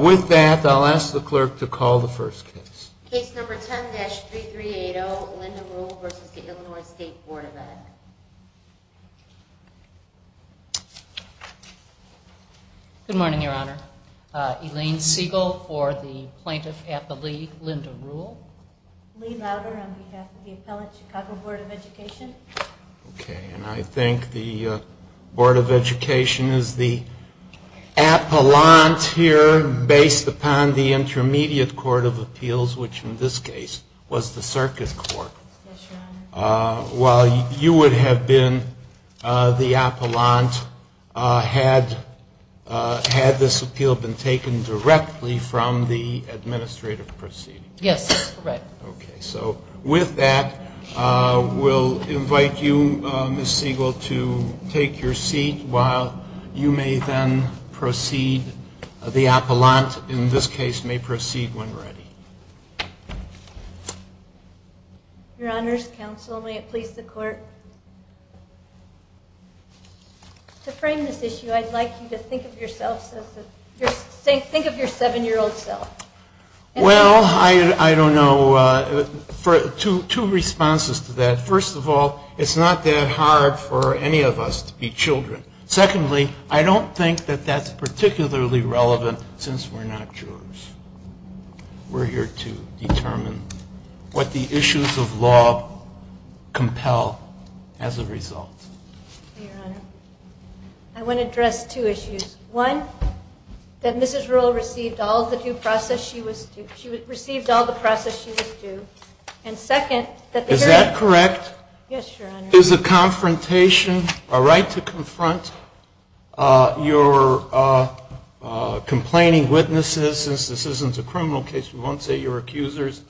With that, I'll ask the clerk to call the first case. Case number 10-3380, Linda Ruhl v. Illinois State Board of Education. Good morning, Your Honor. Elaine Siegel for the plaintiff at the lead, Linda Ruhl. Lee Robert on behalf of the Appellate Chicago Board of Education. Okay, and I think the Board of Education is the appellant here based upon the Intermediate Court of Appeals, which in this case was the Circuit Court. While you would have been the appellant had this appeal been taken directly from the administrative proceeding. Yes, correct. Okay, so with that, we'll invite you, Ms. Siegel, to take your seat while you may then proceed. The appellant, in this case, may proceed when ready. Your Honor's counsel, may it please the clerk. To frame this issue, I'd like you to think of yourself as a, think of your seven-year-old self. Well, I don't know, two responses to that. First of all, it's not that hard for any of us to be children. Secondly, I don't think that that's particularly relevant since we're not children. We're here to determine what the issues of law compel as a result. Your Honor, I want to address two issues. One, that Mrs. Ruhl received all of the due process she was, she received all of the process she was due. And second, that the jury. Is that correct? Yes, Your Honor. Is the confrontation, a right to confront your complaining witnesses, since this isn't a criminal case, we won't say your accusers,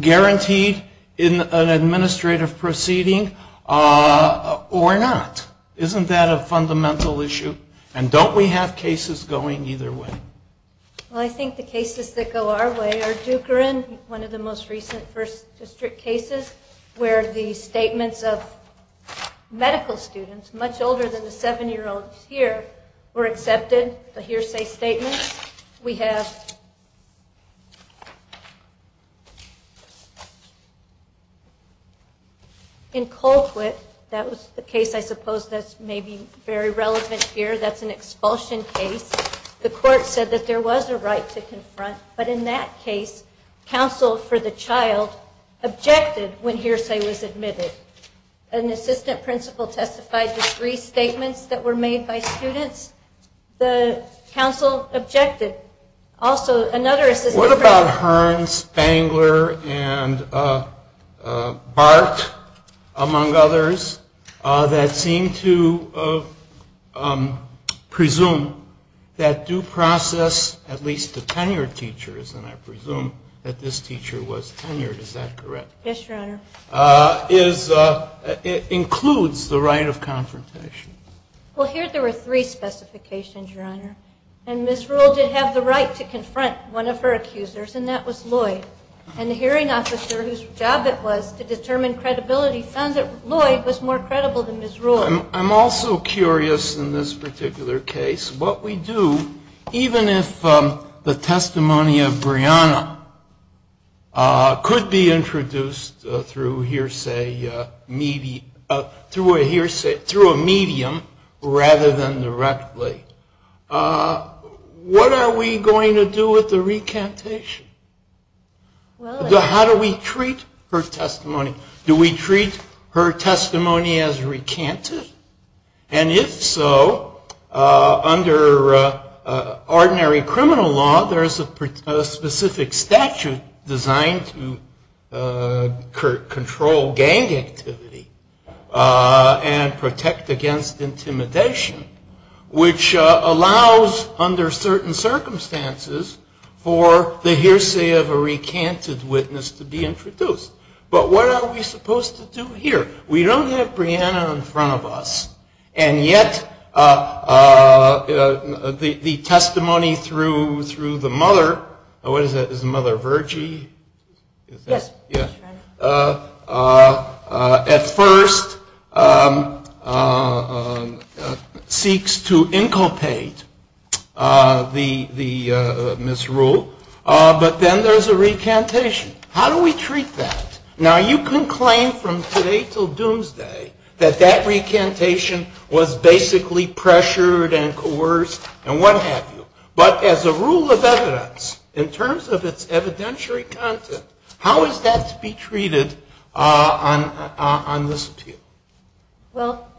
guaranteed in an administrative proceeding or not? Isn't that a fundamental issue? And don't we have cases going either way? Well, I think the cases that go our way are Dukerin, one of the most recent first district cases, where the statements of medical students, much older than the seven-year-old here, were accepted, a hearsay statement. We have, in Colquitt, that was the case I suppose that's maybe very relevant here, that's an expulsion case. The court said that there was a right to confront, but in that case, counsel for the child objected when hearsay was admitted. An assistant principal testified to three statements that were made by students. The counsel objected. What about Hearns, Bangler, and Bart, among others, that seem to presume that due process, at least the tenured teachers, and I presume that this teacher was tenured, is that correct? Yes, Your Honor. It includes the right of confrontation. Well, here there were three specifications, Your Honor. And Ms. Rule did have the right to confront one of her accusers, and that was Lloyd. And the hearing officer, whose job it was to determine credibility, found that Lloyd was more credible than Ms. Rule. I'm also curious in this particular case, what we do, even if the testimony of Brianna could be introduced through a medium rather than directly, what are we going to do with the recantation? How do we treat her testimony? Do we treat her testimony as recanted? And if so, under ordinary criminal law, there is a specific statute designed to control gang activity and protect against intimidation, which allows, under certain circumstances, for the hearsay of a recanted witness to be introduced. But what are we supposed to do here? We don't have Brianna in front of us. And yet, the testimony through the mother, what is that, is Mother Virgie? At first, seeks to inculcate the Ms. Rule, but then there's a recantation. How do we treat that? Now, you can claim from today until doomsday that that recantation was basically pressured and coerced and what have you. But as a rule of evidence, in terms of its evidentiary content, how is that to be treated on this case? Well,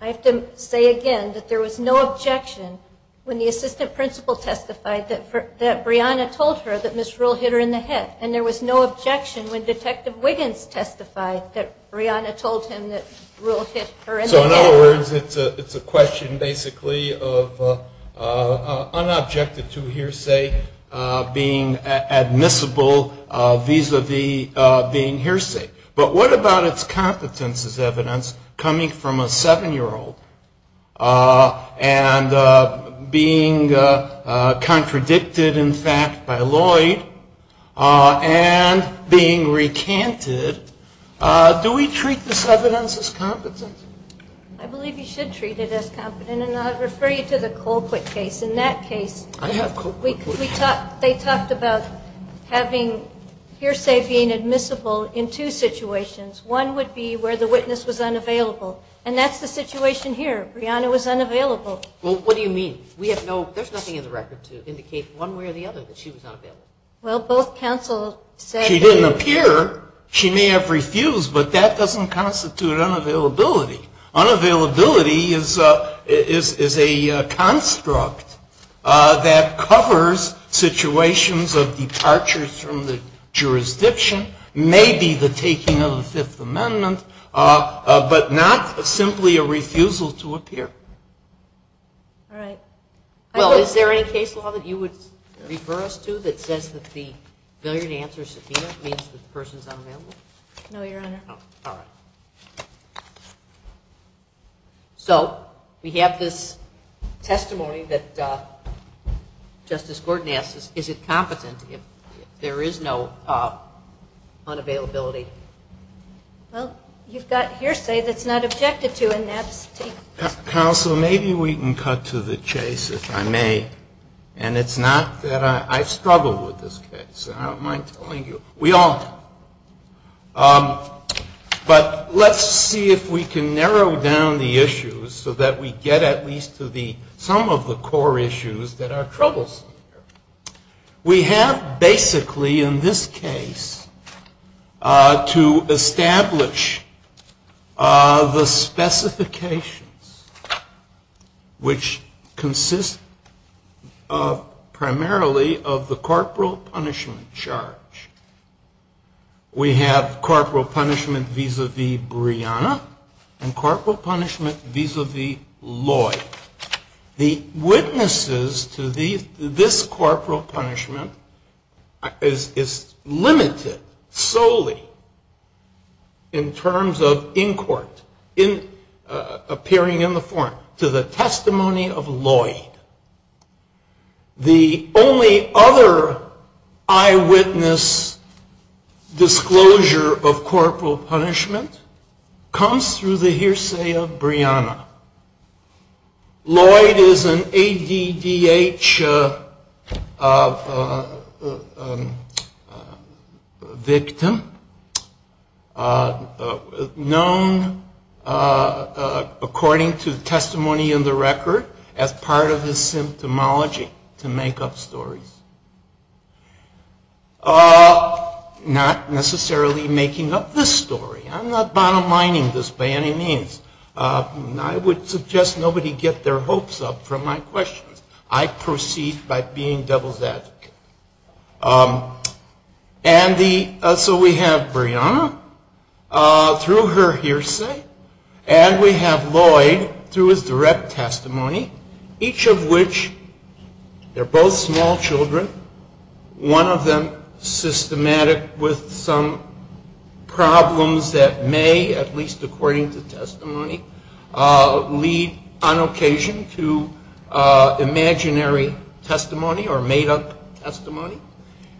I have to say again that there was no objection when the assistant principal testified that Brianna told her that Ms. Rule hit her in the hip. And there was no objection when Detective Wiggins testified that Brianna told him that Rule hit her in the hip. So, in other words, it's a question basically of unobjected to hearsay being admissible vis-a-vis being hearsay. But what about its competence as evidence coming from a seven-year-old and being contradicted in fact by Lloyd and being recanted? Do we treat this evidence as competence? I believe you should treat it as competence. And I'll refer you to the Colquitt case. I have Colquitt cases. They talked about having hearsay being admissible in two situations. One would be where the witness was unavailable. And that's the situation here. Brianna was unavailable. Well, what do you mean? We have no – there's nothing in the record to indicate one way or the other that she was unavailable. Well, both counsels say – She didn't appear. She may have refused, but that doesn't constitute unavailability. Unavailability is a construct that covers situations of departures from the jurisdiction, maybe the taking of the Fifth Amendment, but not simply a refusal to appear. All right. Well, is there any case law that you would refer us to that says that the failure to answer subpoena means that the person is unavailable? No, Your Honor. All right. So we have this testimony that Justice Gordon asked us. Is it competence if there is no unavailability? Well, you've got hearsay that's not objective to enact. Counsel, maybe we can cut to the chase, if I may. And it's not that I – I struggled with this case, so I don't mind telling you. We all do. But let's see if we can narrow down the issues so that we get at least to the – some of the core issues that are troublesome. We have basically in this case to establish the specifications, which consist primarily of the corporal punishment charge. We have corporal punishment vis-a-vis Brianna and corporal punishment vis-a-vis Lloyd. The witnesses to this corporal punishment is limited solely in terms of in court, appearing in the court, to the testimony of Lloyd. The only other eyewitness disclosure of corporal punishment comes through the hearsay of Brianna. Lloyd is an ADDH victim, known according to testimony in the record as part of the symptomology to make up stories. Not necessarily making up this story. I'm not bottom lining this by any means. I would suggest nobody get their hopes up from my questions. I proceed by being devil's advocate. And so we have Brianna through her hearsay, and we have Lloyd through his direct testimony, each of which, they're both small children, one of them systematic with some problems that may, at least according to testimony, lead on occasion to imaginary testimony or made-up testimony.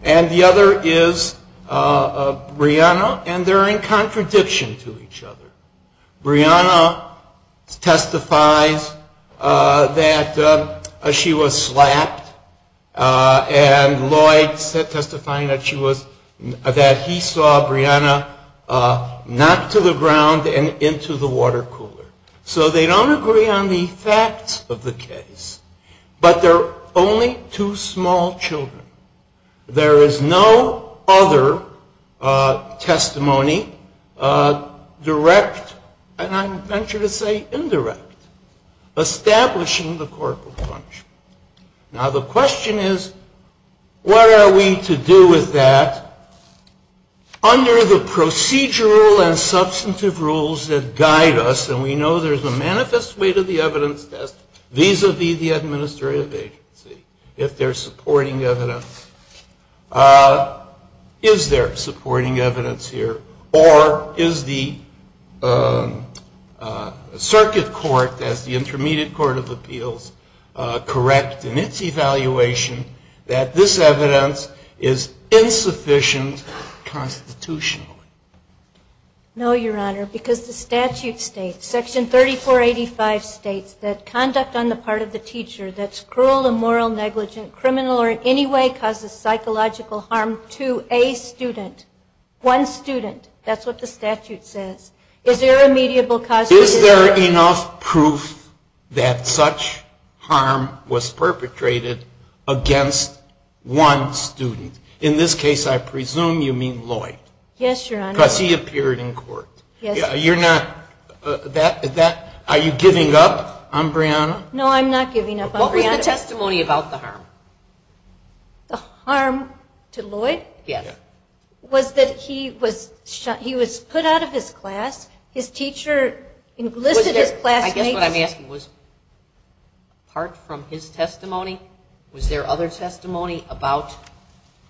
And the other is Brianna, and they're in contradiction to each other. Brianna testifies that she was slapped, and Lloyd testifying that he saw Brianna knocked to the ground and into the water cooler. So they don't agree on the facts of the case, but they're only two small children. There is no other testimony direct, and I venture to say indirect, establishing the corporal punishment. Now the question is, what are we to do with that under the procedural and substantive rules that guide us, and we know there's a manifest weight of the evidence vis-a-vis the administrator, if there's supporting evidence. Is there supporting evidence here, or is the circuit court, as the intermediate court of appeals, correct in its evaluation that this evidence is insufficient constitutionally? No, Your Honor, because the statute states, Section 3485 states that conduct on the part of the teacher that's cruel, immoral, negligent, criminal, or in any way causes psychological harm to a student, one student. That's what the statute says. Is there a mediable cause for this? Is there enough proof that such harm was perpetrated against one student? In this case, I presume you mean Lloyd. Yes, Your Honor. But he appeared in court. You're not, is that, are you giving up on Brianna? No, I'm not giving up on Brianna. What was the testimony about the harm? The harm to Lloyd? Yes. Was that he was put out of his class, his teacher elicited class hate. I guess what I'm asking was, apart from his testimony, was there other testimony about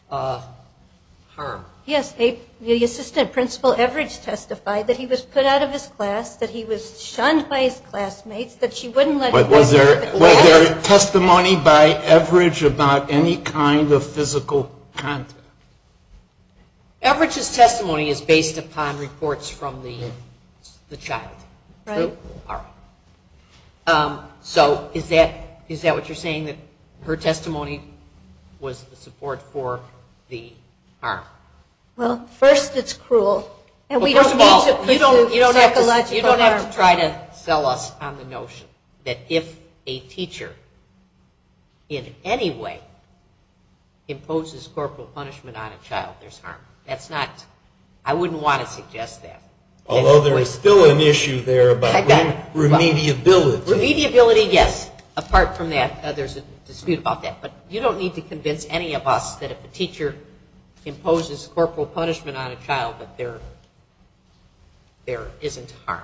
harm? Yes. The assistant principal, Everidge, testified that he was put out of his class, that he was shunned by his classmates, that she wouldn't let him participate. Was there testimony by Everidge about any kind of physical harm? Everidge's testimony is based upon reports from the child. Right. So, is that what you're saying, that her testimony was the support for the harm? Well, first it's cruel. First of all, you don't have to try to sell us on the notion that if a teacher, in any way, imposes corporal punishment on a child, there's harm. That's not, I wouldn't want to suggest that. Although there is still an issue there about remediability. Remediability, yes. Apart from that, there's a dispute about that. But you don't need to convince any of us that if a teacher imposes corporal punishment on a child, that there isn't harm.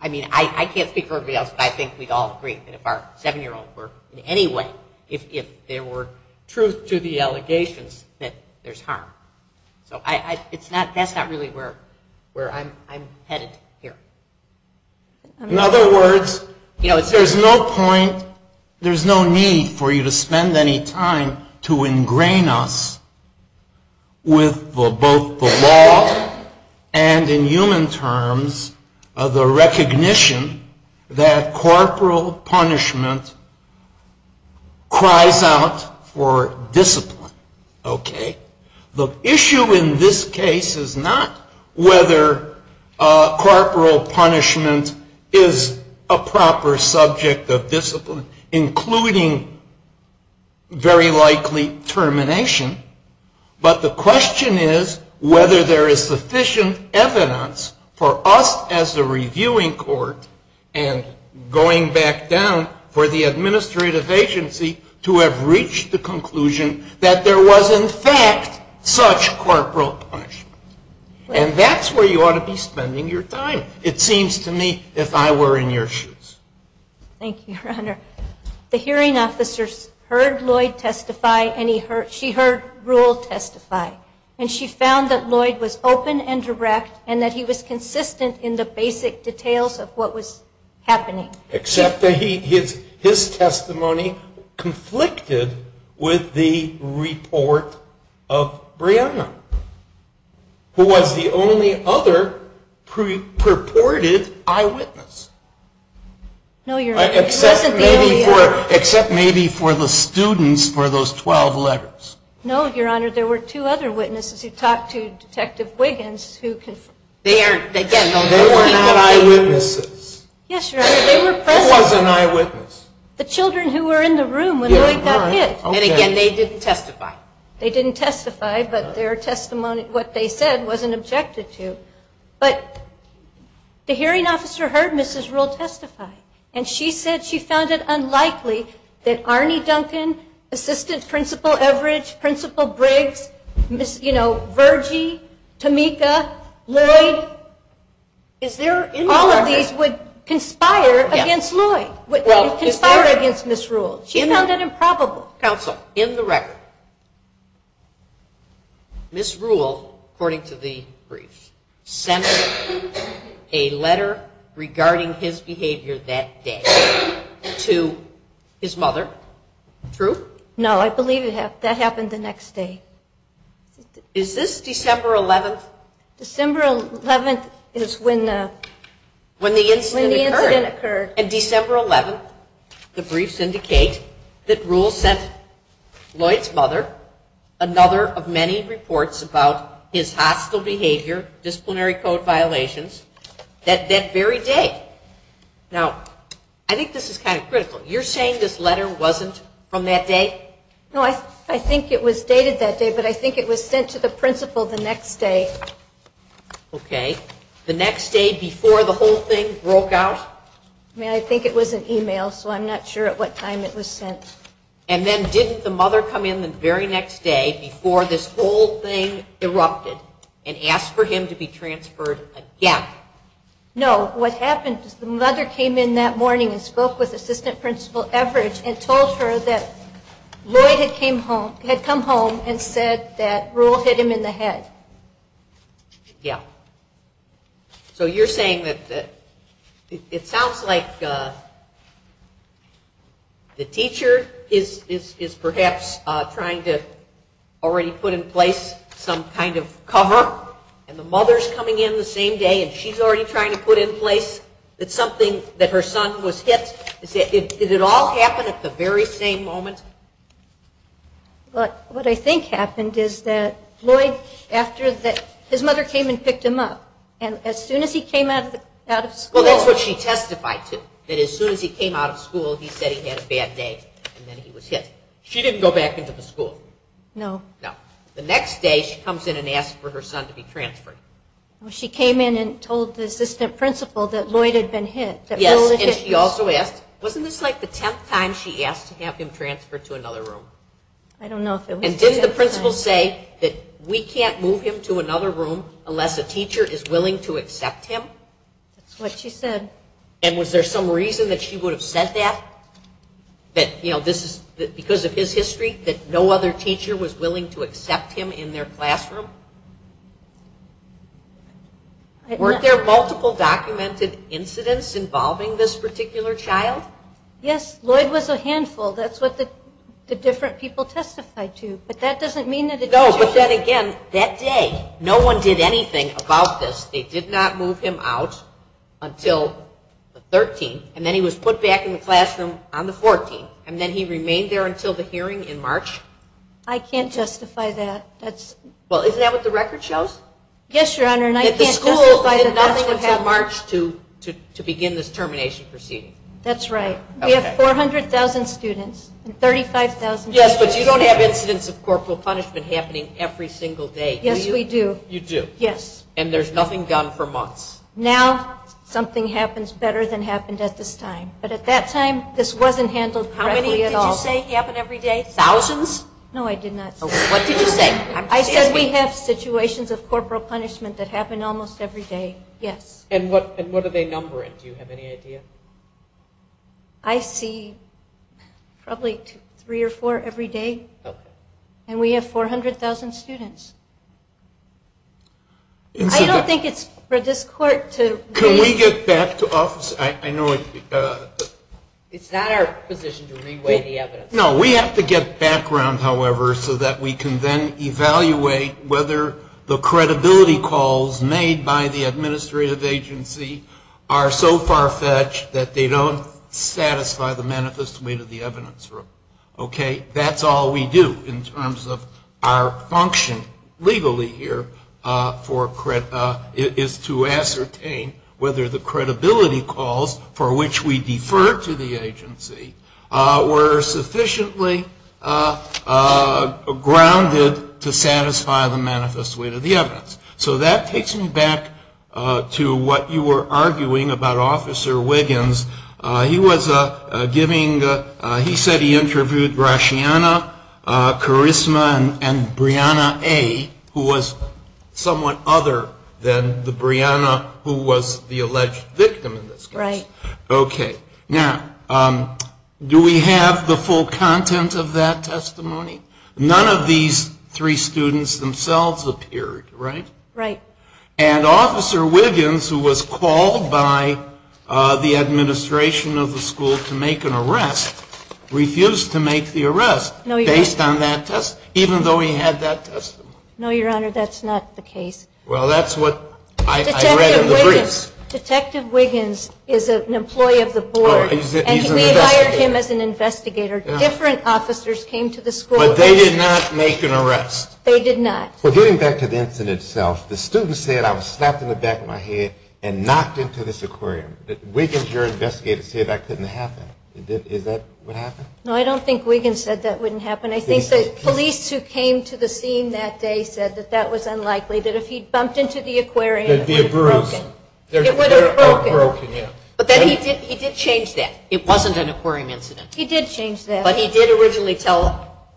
I mean, I can't speak for everybody else, but I think we'd all agree that if our seven-year-olds were, in any way, if there were truth to the allegations, that there's harm. That's not really where I'm headed here. In other words, there's no point, there's no need for you to spend any time to ingrain us with both the laws and, in human terms, the recognition that corporal punishment cries out for discipline. Okay. The issue in this case is not whether corporal punishment is a proper subject of discipline, including very likely termination, but the question is whether there is sufficient evidence for us as a reviewing court and going back down for the administrative agency to have reached the conclusion that there was, in fact, such corporal punishment. And that's where you ought to be spending your time, it seems to me, if I were in your shoes. Thank you, Your Honor. The hearing officers heard Lloyd testify, and she heard Rule testify. And she found that Lloyd was open and direct, and that he was consistent in the basic details of what was happening. Except that his testimony conflicted with the report of Brianna, who was the only other purported eyewitness. No, Your Honor. Except maybe for the students for those 12 letters. No, Your Honor. There were two other witnesses who talked to Detective Wiggins. They were not eyewitnesses. Yes, Your Honor. They were friends of the eyewitness. The children who were in the room when Lloyd testified. And again, they didn't testify. They didn't testify, but their testimony, what they said, wasn't objected to. But the hearing officer heard Mrs. Rule testify. And she said she found it unlikely that Arnie Duncan, Assistant Principal Everidge, Principal Briggs, you know, Virgie, Tamika, Lloyd, all of these would conspire against Lloyd, would conspire against Mrs. Rule. She found that improbable. Counsel, in the record, Mrs. Rule, according to the brief, sent a letter regarding his behavior that day to his mother. True? No, I believe that happened the next day. Is this December 11th? December 11th is when the incident occurred. In December 11th, the briefs indicate that Rule sent Lloyd's mother another of many reports about his hostile behavior, disciplinary code violations, that very day. Now, I think this is kind of critical. You're saying this letter wasn't from that day? No, I think it was dated that day, but I think it was sent to the principal the next day. Okay. The next day before the whole thing broke out? I think it was an email, so I'm not sure at what time it was sent. And then didn't the mother come in the very next day before this whole thing erupted and ask for him to be transferred again? No. What happened is the mother came in that morning and spoke with Assistant Principal Everidge and told her that Lloyd had come home and said that Rule hit him in the head. Yeah. So you're saying that it sounds like the teacher is perhaps trying to already put in place some kind of cover, and the mother's coming in the same day and she's already trying to put in place something that her son was hit. Did it all happen at the very same moment? But what I think happened is that Lloyd, his mother came and picked him up, and as soon as he came out of school... Well, that's what she testified to, that as soon as he came out of school, he said he had a bad day, and then he was hit. She didn't go back into the school. No. No. The next day she comes in and asks for her son to be transferred. Well, she came in and told the Assistant Principal that Lloyd had been hit. Wasn't this like the tenth time she asked to have him transferred to another room? I don't know if it was the tenth time. And didn't the principal say that we can't move him to another room unless a teacher is willing to accept him? That's what she said. And was there some reason that she would have said that? That because of his history, that no other teacher was willing to accept him in their classroom? Weren't there multiple documented incidents involving this particular child? Yes. Lloyd was a handful. That's what the different people testified to. But that doesn't mean that... No. She said again, that day, no one did anything about this. They did not move him out until the 13th, and then he was put back in the classroom on the 14th, and then he remained there until the hearing in March? I can't justify that. Well, isn't that what the record shows? Yes, Your Honor, and I can't justify that. That the school did nothing until March to begin this termination proceeding? That's right. We have 400,000 students and 35,000 teachers. Yes, but you don't have incidents of corporal punishment happening every single day, do you? Yes, we do. You do? Yes. And there's nothing done for months? Now, something happens better than happened at this time. But at that time, this wasn't handled correctly at all. How many did you say happened every day? Thousands? No, I did not. What did you say? I said we have situations of corporal punishment that happen almost every day. Yes. And what do they number it? Do you have any idea? I see probably three or four every day, and we have 400,000 students. I don't think it's for this court to… Can we get back to office? I know… It's not our position to re-weigh the evidence. No, we have to get background, however, so that we can then evaluate whether the credibility calls made by the administrative agency are so far-fetched that they don't satisfy the manifest way to the evidence. Okay? That's all we do in terms of our function legally here is to ascertain whether the credibility calls for which we defer to the agency were sufficiently grounded to satisfy the manifest way to the evidence. So that takes me back to what you were arguing about Officer Wiggins. He said he interviewed Rashiana, Karisma, and Brianna A., who was someone other than the Brianna who was the alleged victim in this case. Right. Okay. Now, do we have the full content of that testimony? None of these three students themselves appeared, right? Right. And Officer Wiggins, who was called by the administration of the school to make an arrest, refused to make the arrest based on that testimony, even though he had that testimony. No, Your Honor, that's not the case. Well, that's what I read in the brief. Detective Wiggins is an employee of the board, and he hired him as an investigator. Different officers came to the school. But they did not make an arrest. They did not. But getting back to the incident itself, the student said, I was slapped in the back of my head and knocked into this aquarium. Wiggins, your investigator, said that couldn't happen. Is that what happened? No, I don't think Wiggins said that wouldn't happen. I think the police who came to the scene that day said that that was unlikely, that if he'd bumped into the aquarium, it would have broken. But then he did change that. It wasn't an aquarium incident. He did change that. But he did originally tell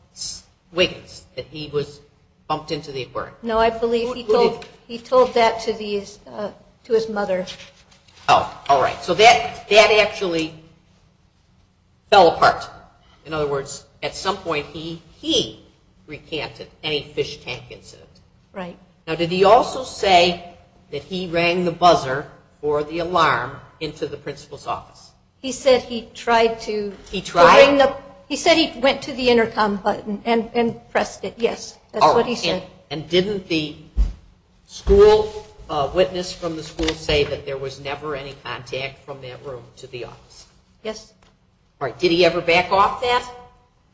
Wiggins that he was bumped into the aquarium. No, I believe he told that to his mother. Oh, all right. So that actually fell apart. In other words, at some point, he recanted a fish tank incident. Right. Now, did he also say that he rang the buzzer or the alarm into the principal's office? He said he tried to. He tried to. He said he went to the intercom button and pressed it, yes. That's what he said. All right. And didn't the school witness from the school say that there was never any contact from that room to the office? Yes. All right. Did he ever back off that? Yes.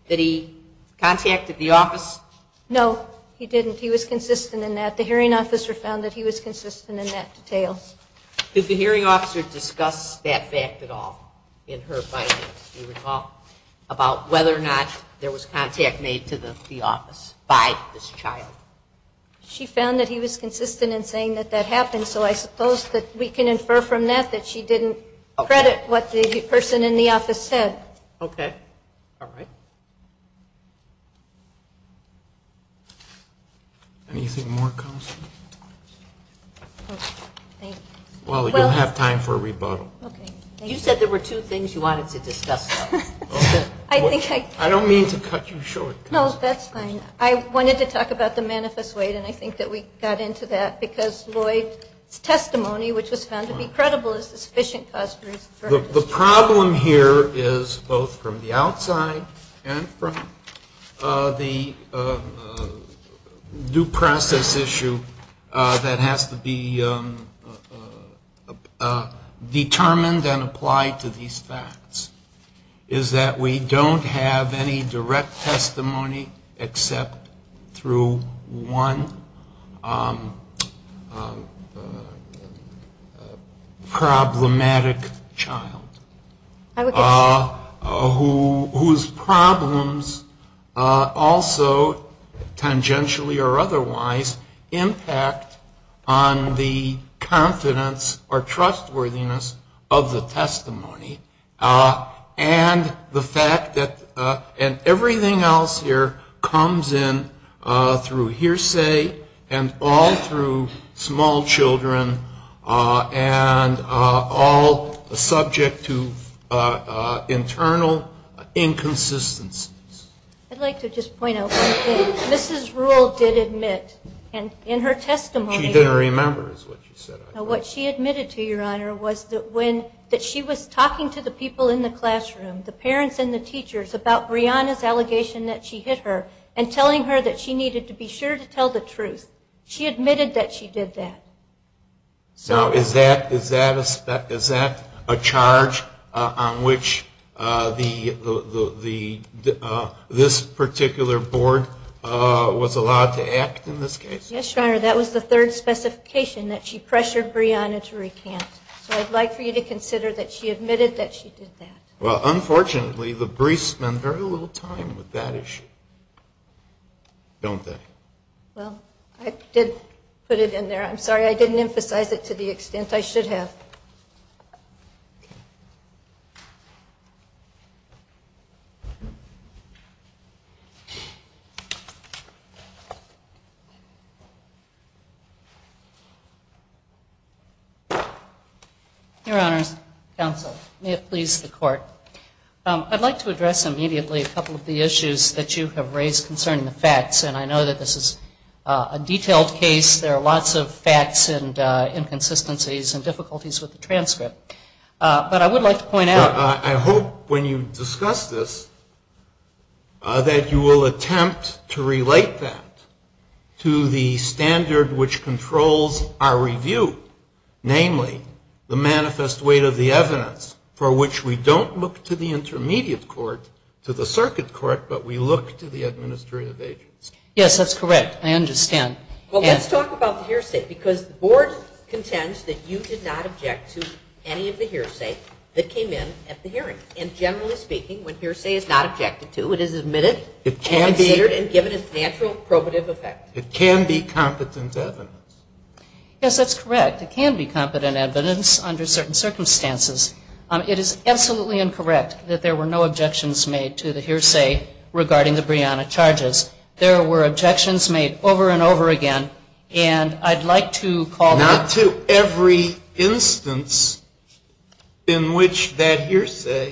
Did he contact the office? No, he didn't. He was consistent in that. The hearing officer found that he was consistent in that detail. Did the hearing officer discuss that fact at all in her findings? Did she talk about whether or not there was contact made to the office by this child? She found that he was consistent in saying that that happened, so I suppose that we can infer from that that she didn't credit what the person in the office said. Okay. All right. Well, we don't have time for a rebuttal. You said there were two things you wanted to discuss. I don't mean to cut you short. No, that's fine. I wanted to talk about the manifesto aid, and I think that we got into that, because Lloyd's testimony, which was found to be credible, is sufficient for us to refer to. The problem here is both from the outside and from the due process issue that has to be determined and applied to these facts is that we don't have any direct testimony except through one problematic child, whose problems also, tangentially or otherwise, impact on the confidence or trustworthiness of the testimony, and the fact that everything else here comes in through hearsay and all through small children and all subject to internal inconsistencies. I'd like to just point out one thing. Mrs. Rule did admit, and in her testimony, She didn't remember is what she said. What she admitted to, Your Honor, was that when she was talking to the people in the classroom, the parents and the teachers, about Brianna's allegation that she hit her and telling her that she needed to be sure to tell the truth, she admitted that she did that. Now, is that a charge on which this particular board was allowed to act in this case? Yes, Your Honor, that was the third specification, that she pressured Brianna to recant. So I'd like for you to consider that she admitted that she did that. Well, unfortunately, the briefs spend very little time with that issue, don't they? Well, I did put it in there. I'm sorry I didn't emphasize it to the extent I should have. Your Honor, counsel, may it please the Court, I'd like to address immediately a couple of the issues that you have raised concerning the facts, and I know that this is a detailed case. There are lots of facts and inconsistencies and difficulties with the transcript. But I would like to point out- I hope when you discuss this that you will attempt to relate that to the standard which controls our review, namely the manifest weight of the evidence for which we don't look to the intermediate court, to the circuit court, but we look to the administrative agents. Yes, that's correct. I understand. Well, let's talk about the hearsay, because the board contends that you did not object to any of the hearsay that came in at the hearing. And generally speaking, when hearsay is not objected to, it is admitted- It can be- And considered and given its natural probative effect. It can be competent evidence. Yes, that's correct. It can be competent evidence under certain circumstances. It is absolutely incorrect that there were no objections made to the hearsay regarding the Breonna charges. There were objections made over and over again, and I'd like to call- Not to every instance in which that hearsay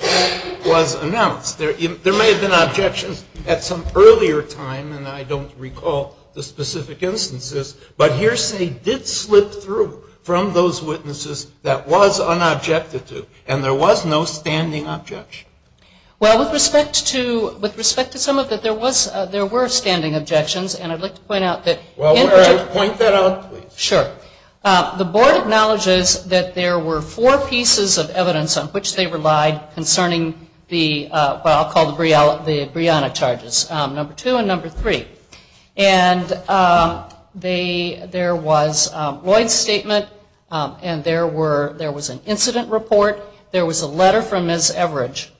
was announced. There may have been objections at some earlier time, and I don't recall the specific instances, but hearsay did slip through from those witnesses that was unobjected to, and there was no standing objection. Well, with respect to some of it, there were standing objections, and I'd like to point out that- Well, why don't I point that out, please? Sure. The board acknowledges that there were four pieces of evidence on which they relied concerning what I'll call the Breonna charges, number two and number three. And there was Lloyd's statement, and there was an incident report. There was a letter from Ms. Everidge.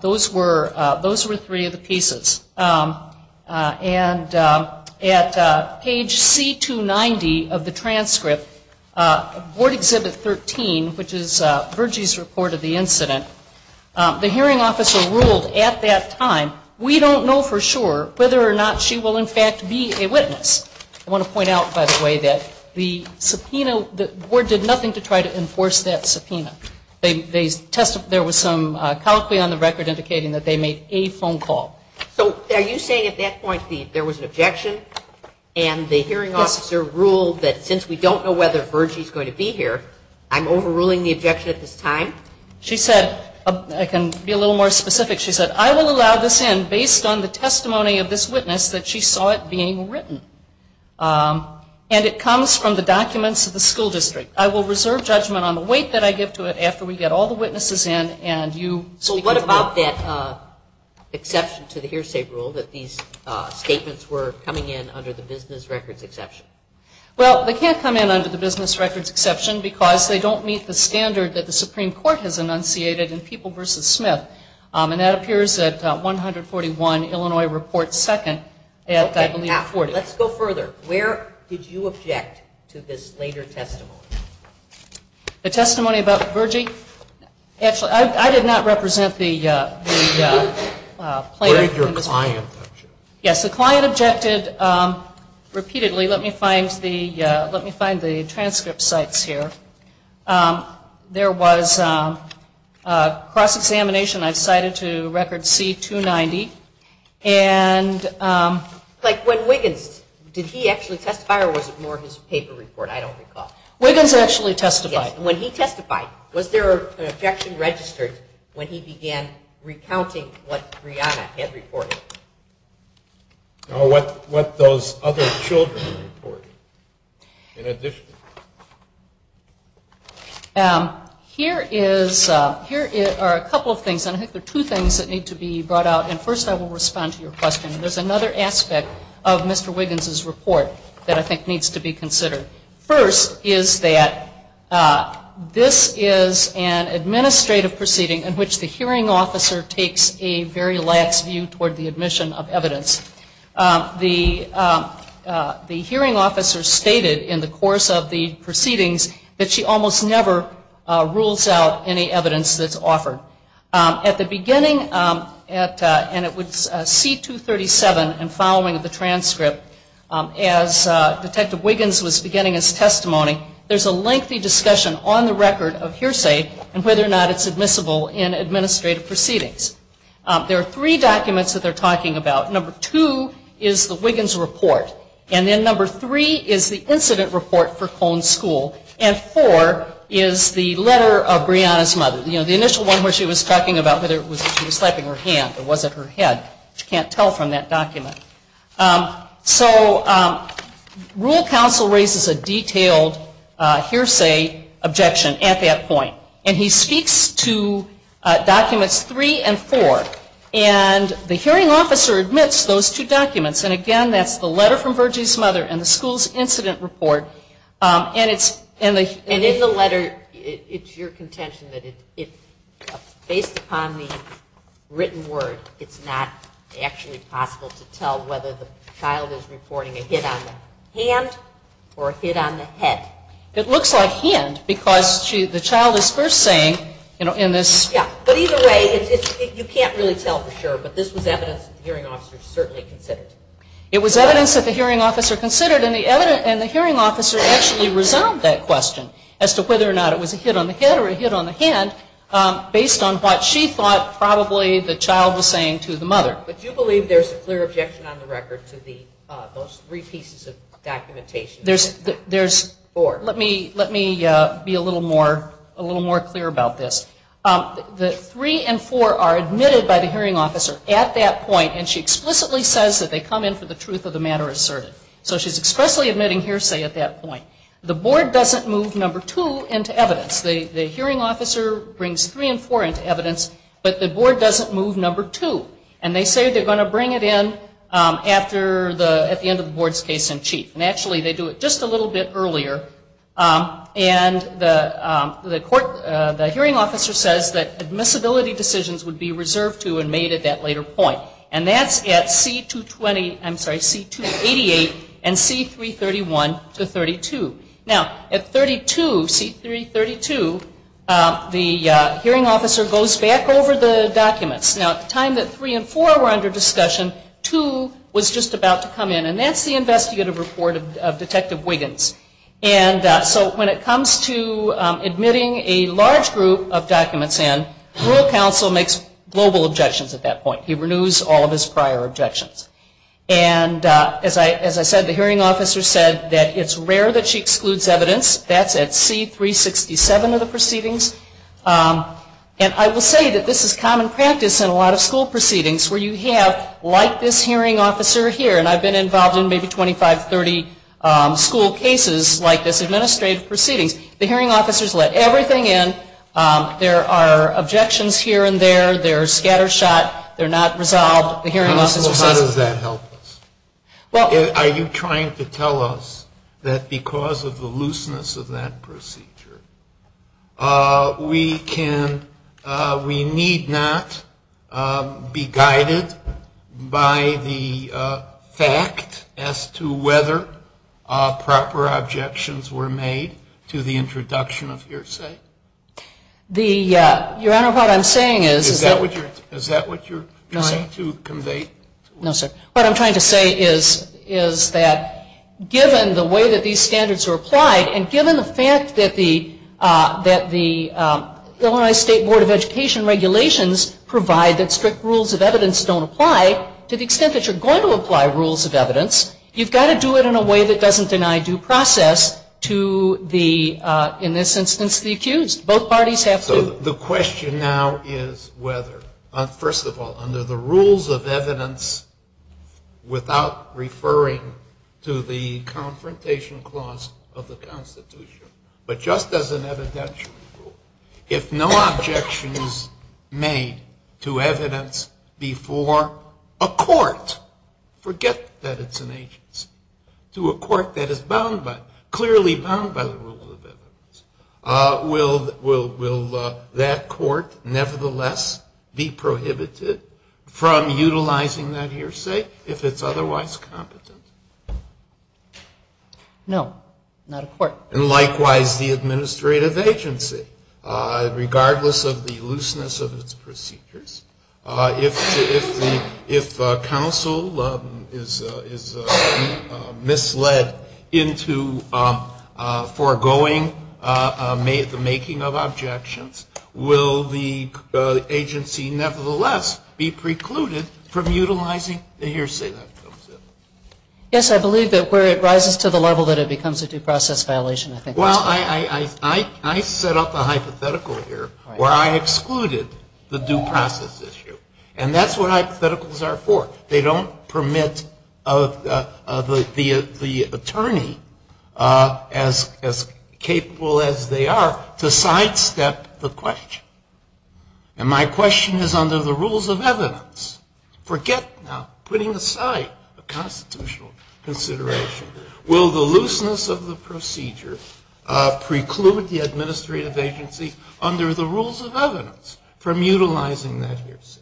Those were three of the pieces. And at page C290 of the transcript, Board Exhibit 13, which is Virgie's report of the incident, the hearing officer ruled at that time, we don't know for sure whether or not she will in fact be a witness. I want to point out, by the way, that the subpoena- the board did nothing to try to enforce that subpoena. There was some callously on the record indicating that they made a phone call. So are you saying at that point there was an objection, and the hearing officer ruled that since we don't know whether Virgie's going to be here, I'm overruling the objection at this time? She said, I can be a little more specific, she said, I will allow this in based on the testimony of this witness that she saw it being written. And it comes from the documents of the school district. I will reserve judgment on the weight that I give to it after we get all the witnesses in and you- So what about that exception to the hearsay rule that these statements were coming in under the business records exception? Well, they can't come in under the business records exception because they don't meet the standard that the Supreme Court has enunciated in People v. Smith. And that appears at 141 Illinois Report 2nd at, I believe, 40. Let's go further. Where did you object to this later testimony? The testimony about Virgie? Actually, I did not represent the plaintiff. Where did your client object to it? Yes, the client objected repeatedly. Actually, let me find the transcript sites here. There was a cross-examination. I've cited to Record C-290. Like when Wiggins, did he actually testify or was it more his paper report? I don't recall. Wiggins actually testified. When he testified, was there an objection registered when he began recounting what Brianna had reported? No, what those other children reported in addition. Here are a couple of things, and I think there are two things that need to be brought out. And first I will respond to your question. There's another aspect of Mr. Wiggins' report that I think needs to be considered. First is that this is an administrative proceeding in which the hearing officer takes a very last view toward the admission of evidence. The hearing officer stated in the course of the proceedings that she almost never rules out any evidence that's offered. At the beginning, and it was C-237 and following the transcript, as Detective Wiggins was beginning his testimony, there's a lengthy discussion on the record of hearsay and whether or not it's admissible in administrative proceedings. There are three documents that they're talking about. Number two is the Wiggins report, and then number three is the incident report for Cone School, and four is the letter of Brianna's mother. The initial one where she was talking about whether she was slapping her hand or was it her head, she can't tell from that document. So Rural Council raises a detailed hearsay objection at that point, and he speaks to documents three and four. And the hearing officer admits those two documents, and again that's the letter from Bridget's mother and the school's incident report. And in the letter, it's your contention that it's based upon the written word. It's not actually possible to tell whether the child was reporting a hit on the hand or a hit on the head. It looks like hands because the child is first saying, you know, in this. Yeah, but either way, you can't really tell for sure, but this was evidence that the hearing officer certainly considered. It was evidence that the hearing officer considered, and the hearing officer actually resolved that question as to whether or not it was a hit on the head or a hit on the hand, based on what she thought probably the child was saying to the mother. But do you believe there's a clear objection on the record to those three pieces of documentation? There's four. Let me be a little more clear about this. The three and four are admitted by the hearing officer at that point, and she explicitly says that they come in for the truth of the matter asserted. So she's expressly admitting hearsay at that point. The board doesn't move number two into evidence. The hearing officer brings three and four into evidence, but the board doesn't move number two. And they say they're going to bring it in at the end of the board's case-in-chief. And actually, they do it just a little bit earlier. And the hearing officer says that admissibility decisions would be reserved to and made at that later point. And that's at C-288 and C-331-32. Now, at 32, C-332, the hearing officer goes back over the documents. Now, at the time that three and four were under discussion, two was just about to come in. And that's the investigative report of Detective Wiggins. And so when it comes to admitting a large group of documents in, rule counsel makes global objections at that point. He renews all of his prior objections. And as I said, the hearing officer said that it's rare that she excludes evidence. That's at C-367 of the proceedings. And I will say that this is common practice in a lot of school proceedings where you have, like this hearing officer here, and I've been involved in maybe 25, 30 school cases like this administrative proceeding, the hearing officer has let everything in. There are objections here and there. They're scattershot. They're not resolved. The hearing officer will say, well, how does that help us? Are you trying to tell us that because of the looseness of that procedure, we need not be guided by the fact as to whether proper objections were made to the introduction of hearsay? Your Honor, what I'm saying is that... Is that what you're trying to convey? No, sir. What I'm trying to say is that given the way that these standards are applied and given the fact that the Illinois State Board of Education regulations provide that strict rules of evidence don't apply, to the extent that you're going to apply rules of evidence, you've got to do it in a way that doesn't deny due process to the, in this instance, the accused. Both parties have to... The question now is whether, first of all, under the rules of evidence without referring to the confrontation clause of the Constitution, but just as an evidentiary rule, if no objection is made to evidence before a court, forget that it's an agency, to a court that is bound by, will that court nevertheless be prohibited from utilizing that hearsay if it's otherwise competent? No, not a court. And likewise the administrative agency, regardless of the looseness of its procedures. If counsel is misled into foregoing the making of objections, will the agency nevertheless be precluded from utilizing the hearsay that comes in? Yes, I believe that where it rises to the level that it becomes a due process violation, I think... Well, I set up a hypothetical here where I excluded the due process issue. And that's what hypotheticals are for. They don't permit the attorney, as capable as they are, to sidestep the question. And my question is under the rules of evidence. Forget putting aside a constitutional consideration. Will the looseness of the procedures preclude the administrative agency under the rules of evidence from utilizing that hearsay?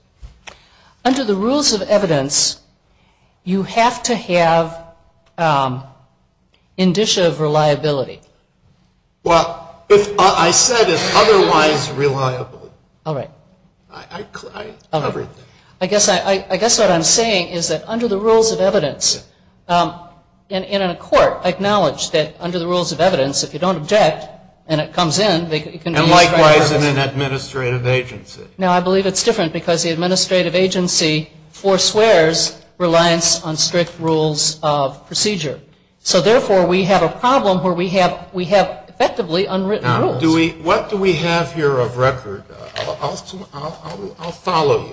Under the rules of evidence, you have to have indicia of reliability. Well, I said otherwise reliable. All right. I guess what I'm saying is that under the rules of evidence, in a court, acknowledge that under the rules of evidence, if you don't object and it comes in... And likewise in an administrative agency. Now, I believe it's different because the administrative agency forswears reliance on strict rules of procedure. So, therefore, we have a problem where we have effectively unwritten rules. Well, what do we have here of record? I'll follow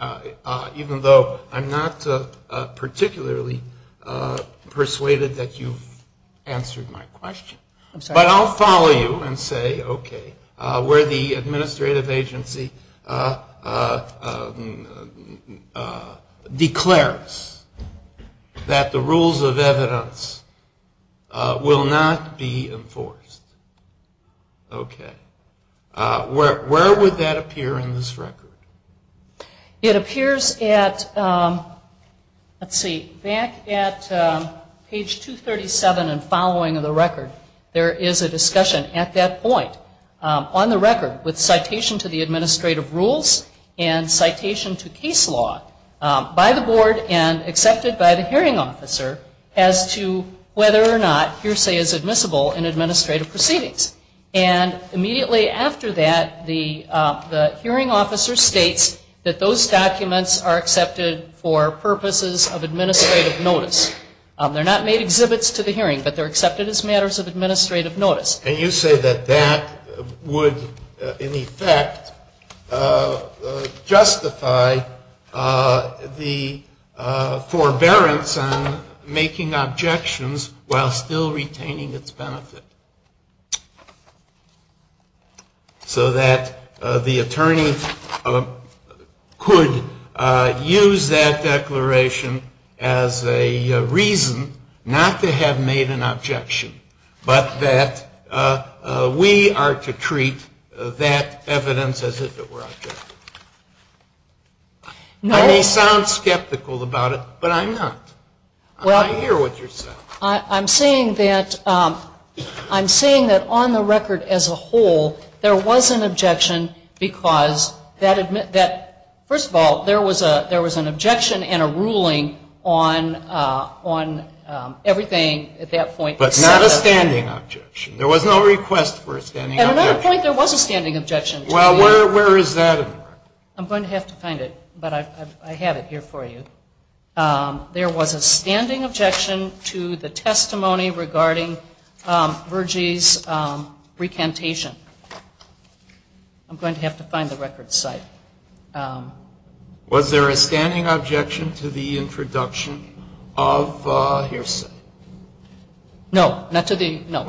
you, even though I'm not particularly persuaded that you've answered my question. But I'll follow you and say, okay, where the administrative agency declares that the rules of evidence will not be enforced. Okay. Where would that appear in this record? It appears at, let's see, back at page 237 and following of the record. There is a discussion at that point on the record with citation to the administrative rules and citation to case law by the board and accepted by the hearing officer as to whether or not hearsay is admissible in administrative proceedings. And immediately after that, the hearing officer states that those documents are accepted for purposes of administrative notice. They're not made exhibits to the hearing, but they're accepted as matters of administrative notice. And you say that that would, in effect, justify the forbearance on making objections while still retaining its benefit. So that the attorneys could use that declaration as a reason not to have made an objection, but that we are to treat that evidence as if it were objective. Now, you sound skeptical about it, but I'm not. I hear what you're saying. I'm saying that on the record as a whole, there was an objection because that, first of all, there was an objection and a ruling on everything at that point. But not a standing objection. There was no request for a standing objection. At another point, there was a standing objection. Well, where is that? I'm going to have to find it, but I had it here for you. There was a standing objection to the testimony regarding Virgie's recantation. I'm going to have to find the record site. Was there a standing objection to the introduction of hearsay? No, not to the, no.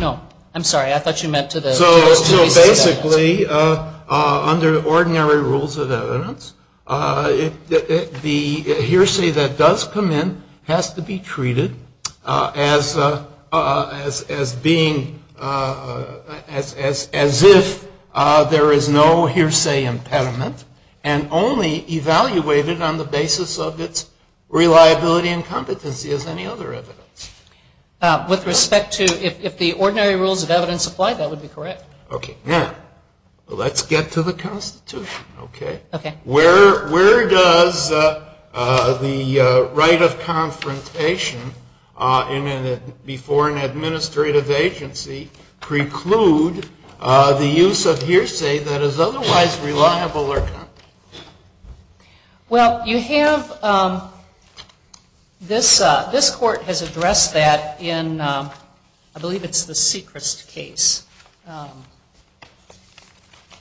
No, I'm sorry. I thought you meant to the- So basically, under ordinary rules of evidence, the hearsay that does come in has to be treated as being, as if there is no hearsay impediment and only evaluated on the basis of its reliability and competency as any other evidence. With respect to, if the ordinary rules of evidence apply, that would be correct. Okay. Now, let's get to the Constitution. Okay. Where does the right of confrontation before an administrative agency preclude the use of hearsay that is otherwise reliable? Well, you have, this court has addressed that in, I believe it's the Seacrest case.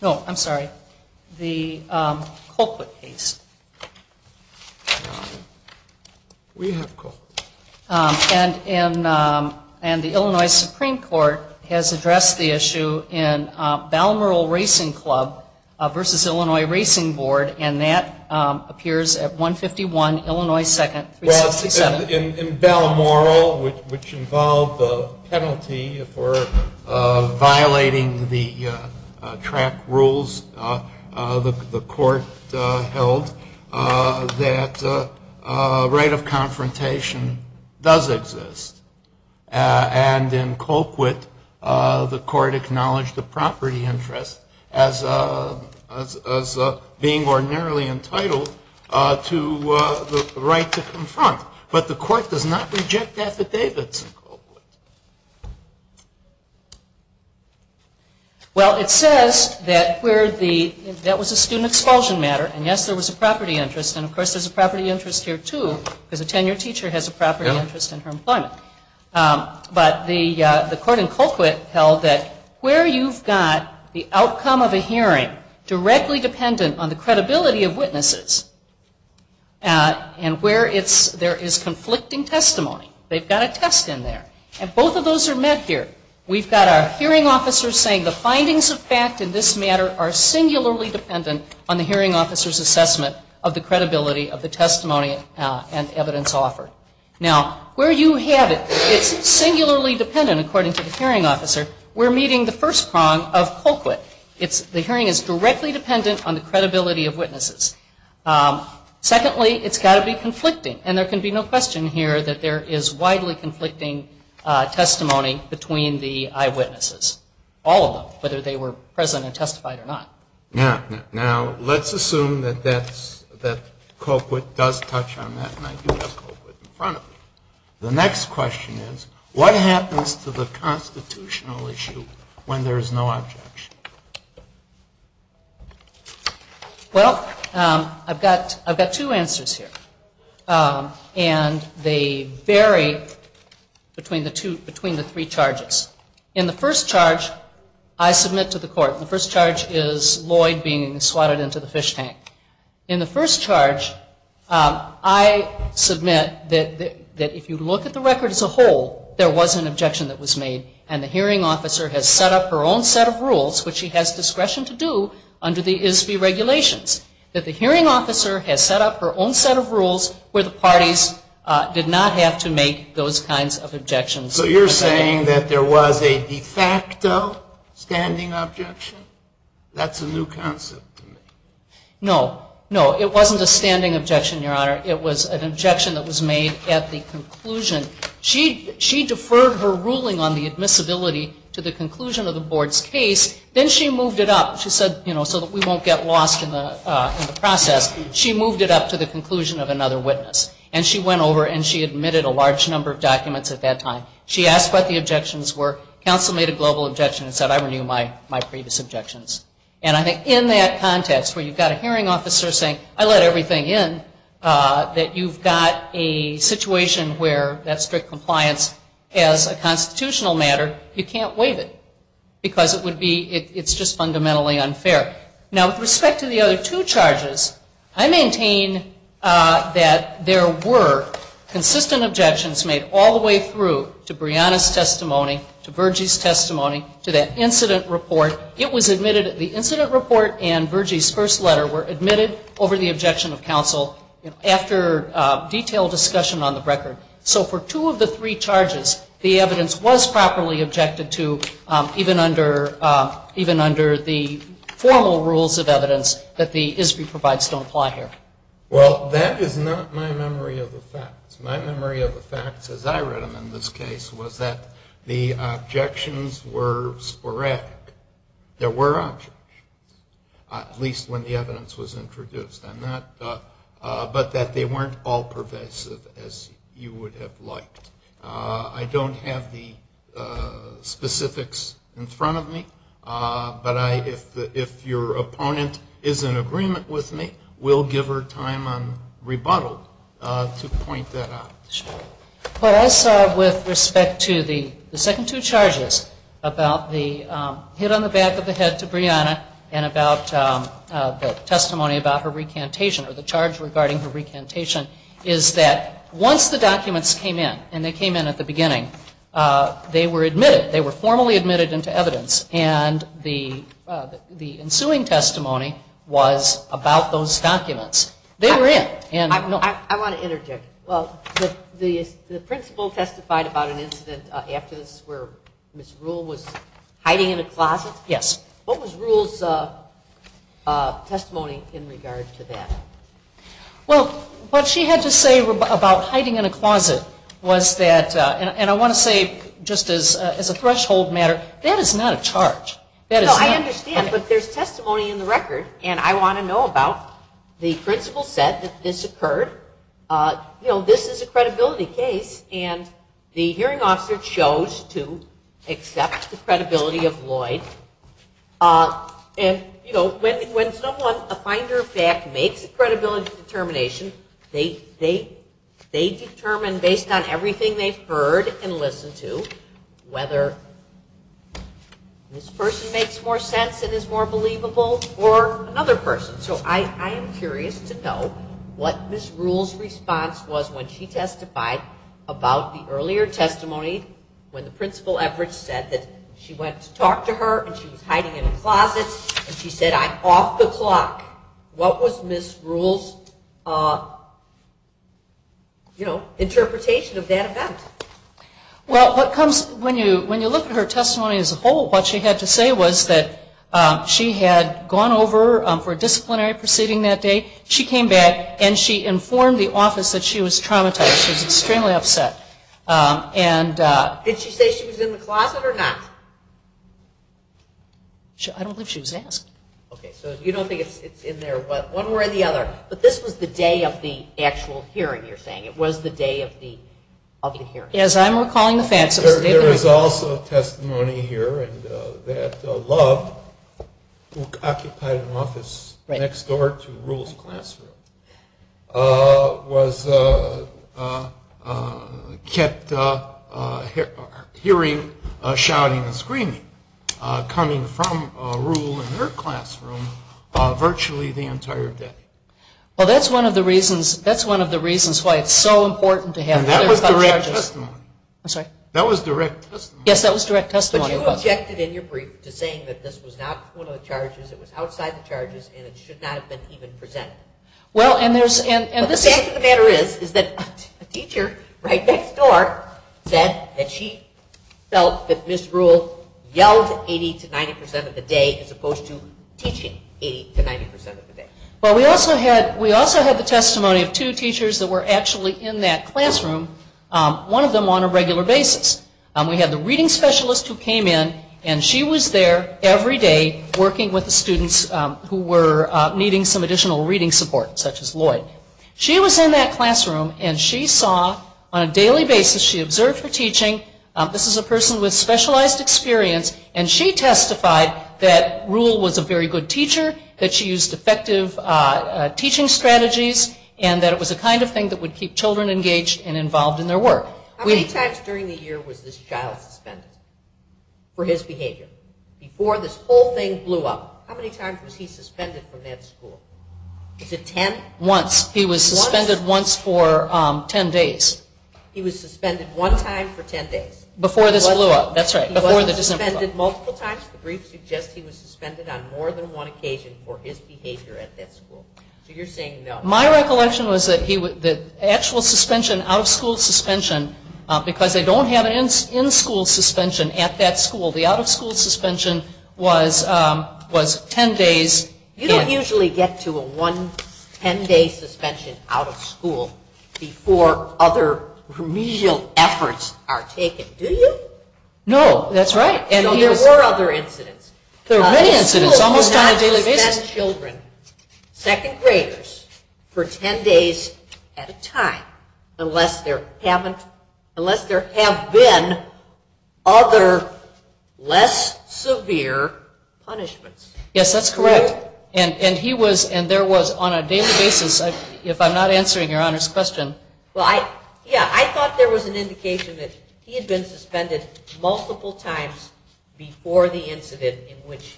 No, I'm sorry, the Colquitt case. We have Colquitt. And the Illinois Supreme Court has addressed the issue in Balamoral Racing Club versus Illinois Racing Board, and that appears at 151 Illinois 2nd, 367. In Balamoral, which involved a penalty for violating the track rules the court held, that right of confrontation does exist. And in Colquitt, the court acknowledged the property interest as being ordinarily entitled to the right to confront. But the court does not reject that to Davidson-Colquitt. Well, it says that where the, that was a student expulsion matter, and yes, there was a property interest, and of course there's a property interest here too, because a tenured teacher has a property interest in her employment. But the court in Colquitt held that where you've got the outcome of a hearing directly dependent on the credibility of witnesses, and where there is conflicting testimony, they've got a test in there. And both of those are met here. We've got our hearing officer saying the findings of fact in this matter are singularly dependent on the hearing officer's assessment of the credibility of the testimony and evidence offered. Now, where you have it, it's singularly dependent according to the hearing officer. We're meeting the first prong of Colquitt. The hearing is directly dependent on the credibility of witnesses. Secondly, it's got to be conflicting. And there can be no question here that there is widely conflicting testimony between the eyewitnesses, all of them, whether they were present and testified or not. Now, let's assume that Colquitt does touch on that, and I do have Colquitt in front of me. The next question is, what happens to the constitutional issue when there is no objection? Well, I've got two answers here, and they vary between the three charges. In the first charge, I submit to the court, the first charge is Lloyd being slotted into the fish tank. In the first charge, I submit that if you look at the record as a whole, there was an objection that was made, and the hearing officer has set up her own set of rules, which she has discretion to do under the ISB regulations, that the hearing officer has set up her own set of rules where the parties did not have to make those kinds of objections. So you're saying that there was a de facto standing objection? That's a new concept to me. No. No, it wasn't a standing objection, Your Honor. It was an objection that was made at the conclusion. She deferred her ruling on the admissibility to the conclusion of the board's case, then she moved it up so that we won't get lost in the process. She moved it up to the conclusion of another witness, and she went over and she admitted a large number of documents at that time. She asked what the objections were. Counsel made a global objection and said, I renew my previous objections. And I think in that context where you've got a hearing officer saying, I let everything in, that you've got a situation where that strict compliance as a constitutional matter, you can't waive it. Because it would be, it's just fundamentally unfair. Now, with respect to the other two charges, I maintain that there were consistent objections made all the way through to Brianna's testimony, to Virgie's testimony, to that incident report. It was admitted that the incident report and Virgie's first letter were admitted over the objection of counsel, after detailed discussion on the record. So for two of the three charges, the evidence was properly objected to, even under the formal rules of evidence that the ISBI provides don't apply here. Well, that is not my memory of the facts. My memory of the facts, as I read them in this case, was that the objections were sporadic. There were objections, at least when the evidence was introduced. But that they weren't all pervasive, as you would have liked. I don't have the specifics in front of me. But if your opponent is in agreement with me, we'll give her time on rebuttal to point that out. Well, also, with respect to the second two charges, about the hit on the back of the head to Brianna, and about the testimony about her recantation, or the charge regarding her recantation, is that once the documents came in, and they came in at the beginning, they were admitted. They were admitted into evidence. And the ensuing testimony was about those documents. They were in. I want to interject. Well, the principal testified about an incident of absence where Ms. Rule was hiding in a closet? Yes. What was Rule's testimony in regards to that? Well, what she had to say about hiding in a closet was that, and I want to say just as a threshold matter, that is not a charge. No, I understand. But there's testimony in the record, and I want to know about the principal said that this occurred. You know, this is a credibility case, and the hearing officer chose to accept the credibility of Lloyd. And, you know, when someone, a finder of fact, makes a credibility determination, they determine, based on everything they've heard and listened to, whether this person makes more sense and is more believable, or another person. So I am curious to know what Ms. Rule's response was when she testified about the earlier testimony when the principal efforts said that she went to talk to her, and she was hiding in a closet, and she said, I'm off the clock. What was Ms. Rule's, you know, interpretation of that event? Well, when you look at her testimony as a whole, what she had to say was that she had gone over for a disciplinary proceeding that day. She came back, and she informed the office that she was traumatized. She was extremely upset. Did she say she was in the closet or not? I don't think she was asking. Okay, so you don't think it's in there one way or the other. But this was the day of the actual hearing, you're saying. It was the day of the hearing. As I'm recalling the facts. There is also testimony here that Love, who occupied an office next door to Rule's classroom, was kept hearing shouting and screaming coming from Rule in her classroom virtually the entire day. Well, that's one of the reasons why it's so important to have that. That was direct testimony. I'm sorry? That was direct testimony. Yes, that was direct testimony. You objected in your brief to saying that this was not one of the charges, it was outside the charges, and it should not have been even presented. The fact of the matter is that the teacher right next door said that she felt that this Rule yelled 80 to 90 percent of the day as opposed to teaching 80 to 90 percent of the day. Well, we also had the testimony of two teachers that were actually in that classroom, one of them on a regular basis. We had the reading specialist who came in, and she was there every day working with the students who were needing some additional reading support, such as Lloyd. She was in that classroom, and she saw on a daily basis, she observed her teaching. This is a person with specialized experience, and she testified that Rule was a very good teacher, that she used effective teaching strategies, and that it was the kind of thing that would keep children engaged and involved in their work. How many times during the year was this child suspended for his behavior? Before this whole thing blew up. How many times was he suspended from that school? Is it ten? Once. He was suspended once for ten days. He was suspended one time for ten days? Before this blew up. That's right. He was suspended multiple times? The brief suggests he was suspended on more than one occasion for his behavior at that school. So you're saying no. My recollection was that the actual suspension, out-of-school suspension, because they don't have an in-school suspension at that school, the out-of-school suspension was ten days. You don't usually get to a one ten-day suspension out of school before other remedial efforts are taken, do you? No, that's right. There were other incidents. There were many incidents. Almost on a daily basis. Second graders for ten days at a time, unless there have been other less severe punishments. Yes, that's correct. And he was, and there was on a daily basis, if I'm not answering Your Honor's question. Well, yeah, I thought there was an indication that he had been suspended multiple times before the incident in which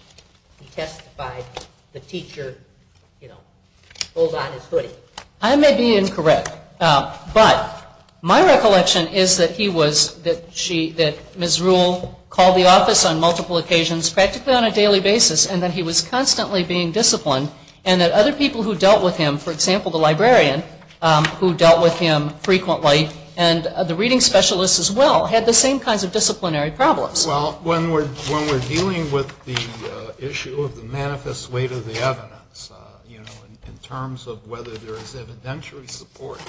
he testified the teacher, you know, pulled on his hoodie. I may be incorrect, but my recollection is that he was, that she, that Ms. Rule called the office on multiple occasions, practically on a daily basis, and that he was constantly being disciplined, and that other people who dealt with him, for example, the librarian, who dealt with him frequently, and the reading specialist as well, had the same kinds of disciplinary problems. Well, when we're dealing with the issue of the manifest weight of the evidence, you know, in terms of whether there is evidentiary support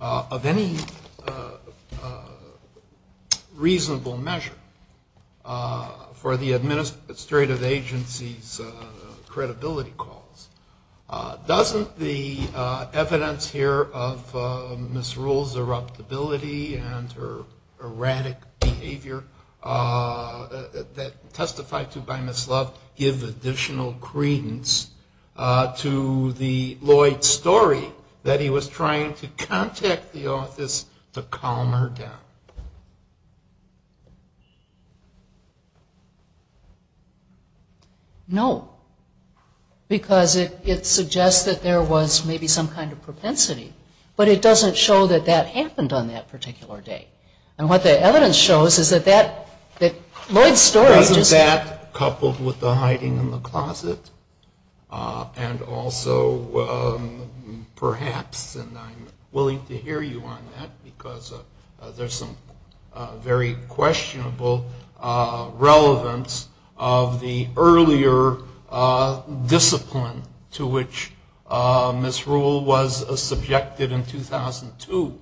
of any reasonable measure for the administrative agency's credibility calls, doesn't the evidence here of Ms. Rule's irruptibility and her erratic behavior that testified to by Ms. Love give additional credence to the Lloyd story that he was trying to contact the office to calm her down? No. Because it suggests that there was maybe some kind of propensity, but it doesn't show that that happened on that particular day. And what the evidence shows is that Lloyd's story just... Wasn't that coupled with the hiding in the closet? And also perhaps, and I'm willing to hear you on that, because there's some very questionable relevance of the earlier discipline to which Ms. Rule was subjected in 2002,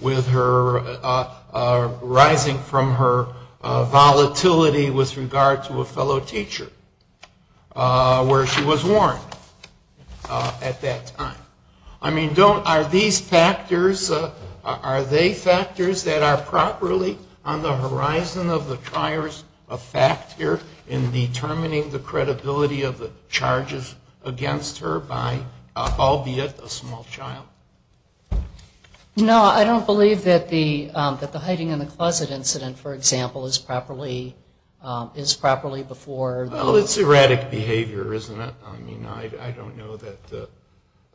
with her rising from her volatility with regard to a fellow teacher, where she was warned at that time. I mean, don't... Are these factors... Are they factors that are properly on the horizon of the trier's factor in determining the credibility of the charges against her by, albeit a small child? No, I don't believe that the hiding in the closet incident, for example, is properly before... Well, it's erratic behavior, isn't it? I mean, I don't know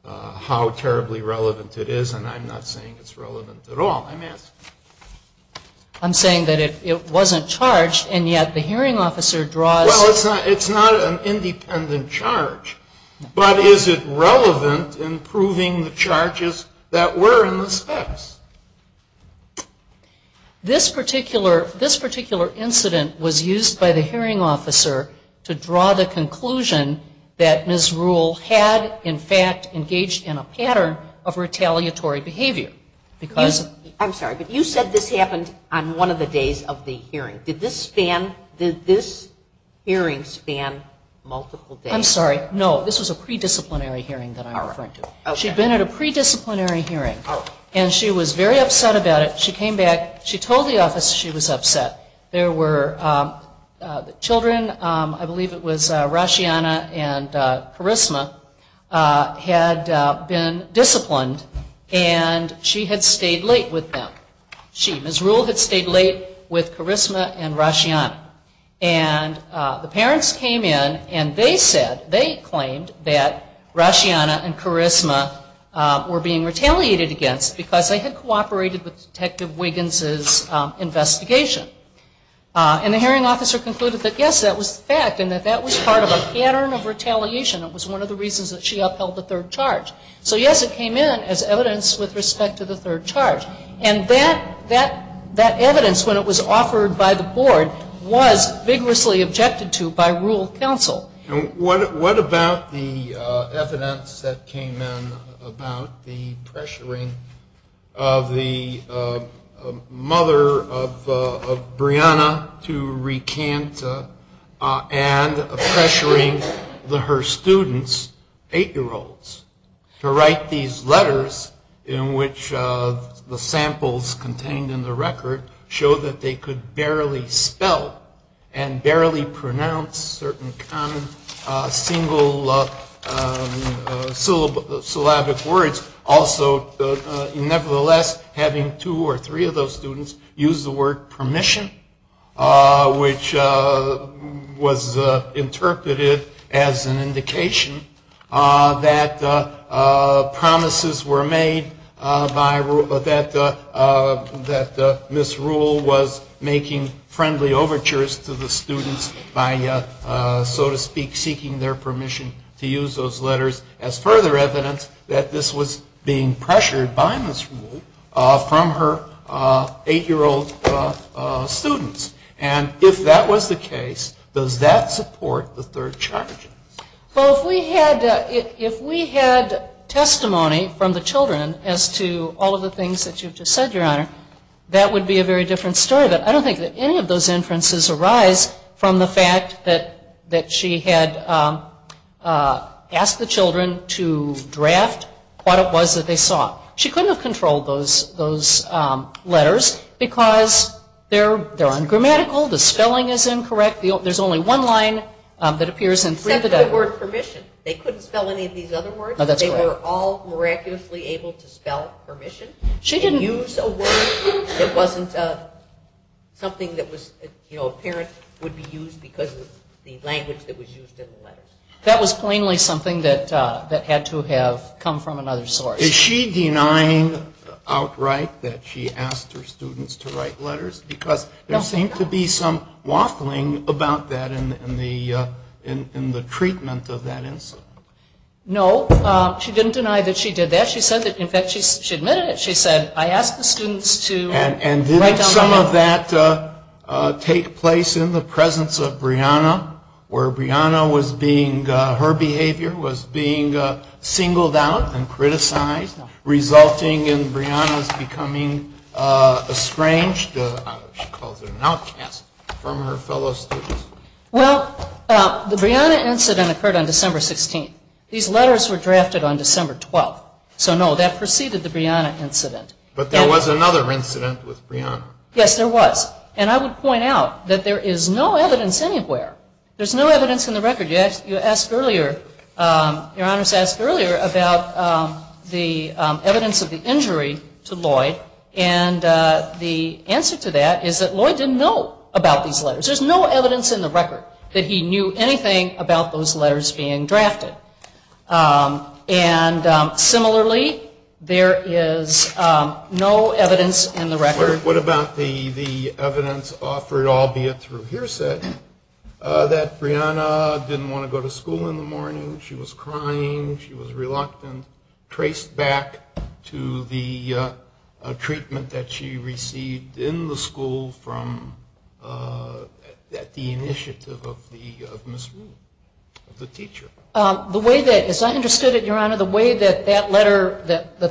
how terribly relevant it is, and I'm not saying it's relevant at all. I'm asking... I'm saying that it wasn't charged, and yet the hearing officer draws... Well, it's not an independent charge, but is it relevant in proving the charges that were in the specs? This particular incident was used by the hearing officer to draw the conclusion that Ms. Rule had, in fact, engaged in a pattern of retaliatory behavior. I'm sorry, but you said this happened on one of the days of the hearing. Did this hearing span multiple days? I'm sorry. No, this was a pre-disciplinary hearing that I'm referring to. She'd been at a pre-disciplinary hearing, and she was very upset about it. She came back. She told the office she was upset. There were children. I believe it was Roshiana and Charisma had been disciplined, and she had stayed late with them. Ms. Rule had stayed late with Charisma and Roshiana. And the parents came in, and they said... They claimed that Roshiana and Charisma were being retaliated against because they had cooperated with Detective Wiggins' investigation. And the hearing officer concluded that, yes, that was the fact, and that that was part of a pattern of retaliation. It was one of the reasons that she upheld the third charge. So, yes, it came in as evidence with respect to the third charge. And that evidence, when it was offered by the board, was vigorously objected to by Rule counsel. What about the evidence that came in about the pressuring of the mother of Brianna to recant and pressuring her students, eight-year-olds, to write these letters in which the samples contained in the record showed that they could barely spell and barely pronounce certain common single syllabic words. Also, nevertheless, having two or three of those students use the word permission, which was interpreted as an indication that promises were made that Ms. Rule was making friendly overtures to the students by, so to speak, seeking their permission to use those letters, as further evidence that this was being pressured by Ms. Rule from her eight-year-old students. And if that was the case, does that support the third charge? Well, if we had testimony from the children as to all of the things that you've just said, Your Honor, that would be a very different story. I don't think that any of those inferences arise from the fact that she had asked the children to draft what it was that they saw. She couldn't have controlled those letters because they're ungrammatical, the spelling is incorrect, there's only one line that appears in three of the letters. Except the word permission. They couldn't spell any of these other words. They were all miraculously able to spell permission. She didn't use a word that wasn't something that was apparent, would be used because of the language that was used in the letters. That was plainly something that had to have come from another source. Is she denying outright that she asked her students to write letters? Because there seems to be some waffling about that in the treatment of that insult. No, she didn't deny that she did that. In fact, she admitted it. She said, I asked the students to write down the words. And didn't some of that take place in the presence of Brianna, where her behavior was being singled out and criticized, resulting in Brianna's becoming estranged, she called it an outcast, from her fellow students? Well, the Brianna incident occurred on December 16th. These letters were drafted on December 12th. So no, that preceded the Brianna incident. But there was another incident with Brianna. Yes, there was. And I would point out that there is no evidence anywhere. There's no evidence in the record. Your Honor's asked earlier about the evidence of the injury to Lloyd. And the answer to that is that Lloyd didn't know about these letters. There's no evidence in the record that he knew anything about those letters being drafted. And similarly, there is no evidence in the record. What about the evidence offered, albeit through hearsay, that Brianna didn't want to go to school in the morning, she was crying, she was reluctant, traced back to the treatment that she received in the school at the initiative of Miss Rule, the teacher? As I understood it, Your Honor, the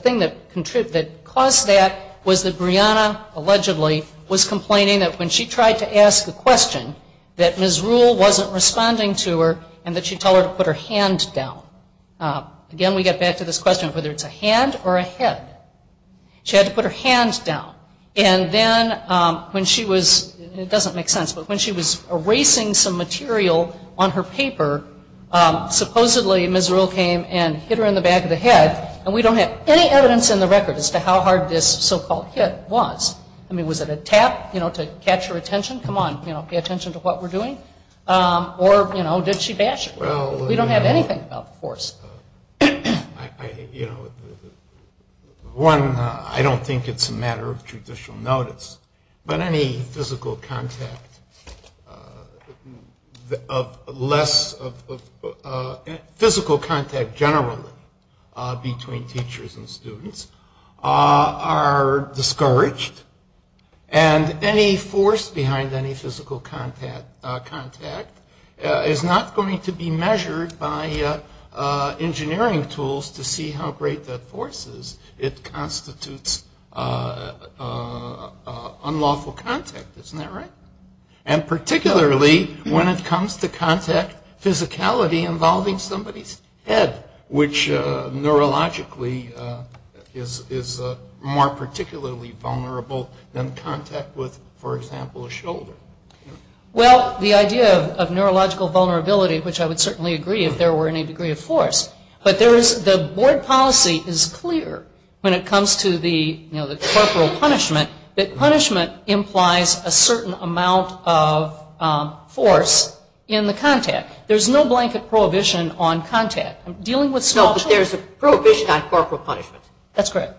thing that caused that was that Brianna, allegedly, was complaining that when she tried to ask a question, that Miss Rule wasn't responding to her, and that she told her to put her hands down. Again, we get back to this question of whether it's a hand or a head. She had to put her hands down. And then when she was, it doesn't make sense, but when she was erasing some material on her paper, supposedly Miss Rule came and hit her in the back of the head, and we don't have any evidence in the record as to how hard this so-called hit was. I mean, was it a tap, you know, to capture attention? Come on, you know, pay attention to what we're doing? Or, you know, did she bash her? We don't have anything about force. One, I don't think it's a matter of judicial notice, but any physical contact generally between teachers and students are discouraged, and any force behind any physical contact is not going to be measured by engineering tools to see how great that force is. It constitutes unlawful contact, isn't that right? And particularly when it comes to contact physicality involving somebody's head, which neurologically is more particularly vulnerable than contact with, for example, a shoulder. Well, the idea of neurological vulnerability, which I would certainly agree if there were any degree of force, but the board policy is clear when it comes to the corporal punishment that punishment implies a certain amount of force in the contact. There's no blanket prohibition on contact. No, but there's a prohibition on corporal punishment. That's correct.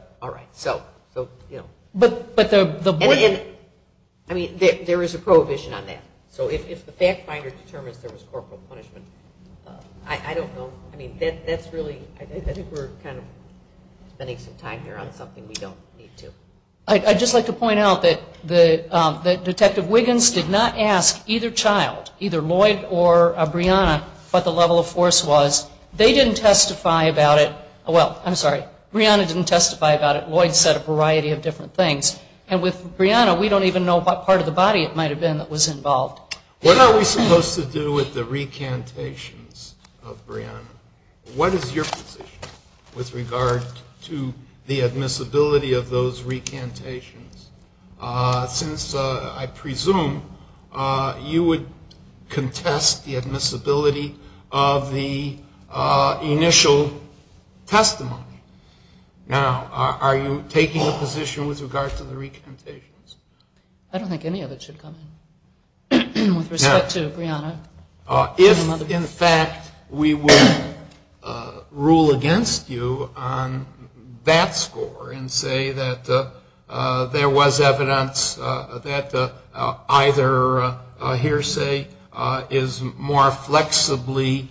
I mean, there is a prohibition on that. So if the fact finder determines there was corporal punishment, I don't know. I mean, that's really, I think we're kind of spending some time here on something we don't need to. I'd just like to point out that Detective Wiggins did not ask either child, or Brianna, what the level of force was. They didn't testify about it. Well, I'm sorry, Brianna didn't testify about it. Lloyd said a variety of different things. And with Brianna, we don't even know what part of the body it might have been that was involved. What are we supposed to do with the recantations of Brianna? What is your position with regard to the admissibility of those recantations? Since I presume you would contest the admissibility of the initial testimony. Now, are you taking a position with regard to the recantations? I don't think any of it should come with respect to Brianna. If, in fact, we would rule against you on that score and say that there was evidence that either a hearsay is more flexibly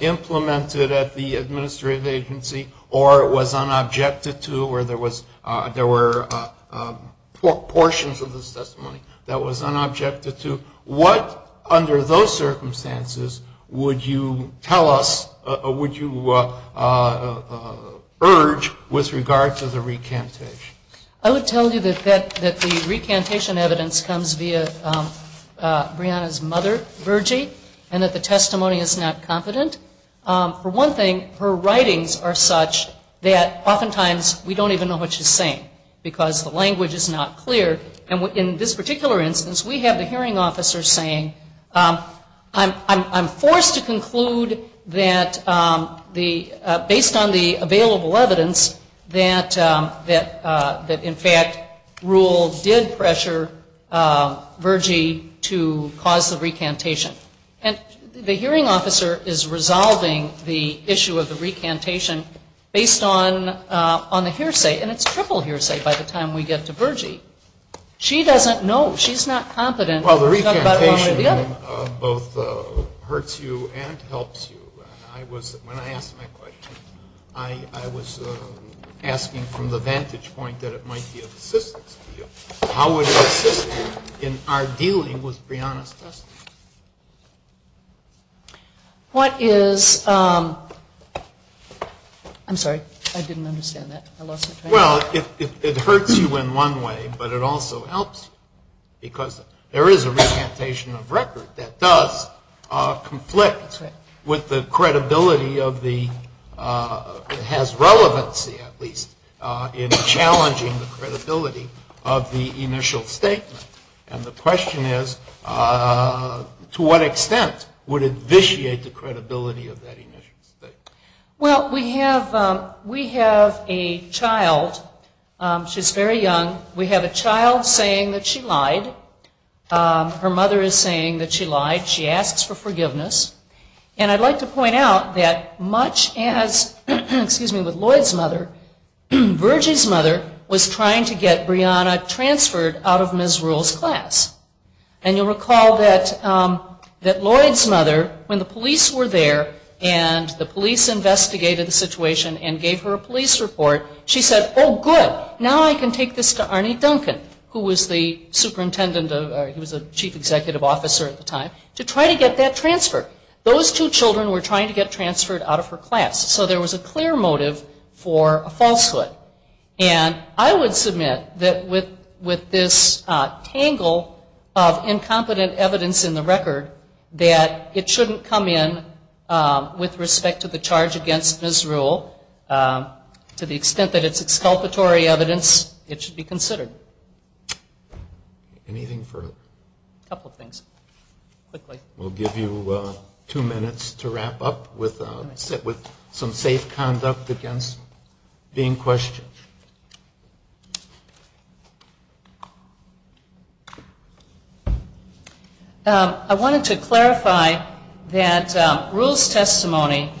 implemented at the administrative agency, or it was unobjected to, or there were portions of the testimony that was unobjected to, what, under those circumstances, would you tell us, would you urge with regard to the recantations? I would tell you that the recantation evidence comes via Brianna's mother, Virgie, and that the testimony is not competent. For one thing, her writings are such that oftentimes we don't even know what she's saying because the language is not clear. And in this particular instance, we have the hearing officer saying, I'm forced to conclude that, based on the available evidence, that, in fact, rule did pressure Virgie to cause the recantation. And the hearing officer is resolving the issue of the recantation based on the hearsay, and it's triple hearsay by the time we get to Virgie. She doesn't know. She's not competent. Well, the recantation both hurts you and helps you. When I asked my question, I was asking from the vantage point that it might be a system issue. How would it help us in our dealing with Brianna's testimony? What is, I'm sorry, I didn't understand that. Well, it hurts you in one way, but it also helps you, because there is a recantation of record that does conflict with the credibility of the, has relevancy, at least, in challenging the credibility of the initial statement. And the question is, to what extent would it vitiate the credibility of that initial statement? Well, we have a child. She's very young. We have a child saying that she lied. Her mother is saying that she lied. She asks for forgiveness. And I'd like to point out that much as, excuse me, with Lloyd's mother, Virgie's mother was trying to get Brianna transferred out of Ms. Rule's class. And you'll recall that Lloyd's mother, when the police were there and the police investigated the situation and gave her a police report, she said, oh, good, now I can take this to Arnie Duncan, who was the superintendent, or he was the chief executive officer at the time, to try to get that transferred. Those two children were trying to get transferred out of her class. So there was a clear motive for a falsehood. And I would submit that with this tangle of incompetent evidence in the record, that it shouldn't come in with respect to the charge against Ms. Rule, to the extent that it's exculpatory evidence, it should be considered. Anything further? A couple things. We'll give you two minutes to wrap up with some safe conduct against being questioned. I wanted to clarify that Rule's testimony,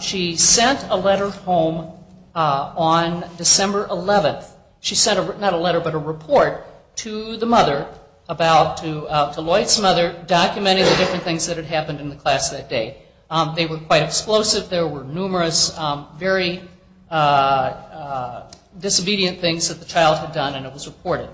she sent a letter home on December 11th. She sent not a letter, but a report to the mother, to Lloyd's mother, documenting the different things that had happened in the class that day. They were quite explosive. She said that there were numerous, very disobedient things that the child had done, and it was reported.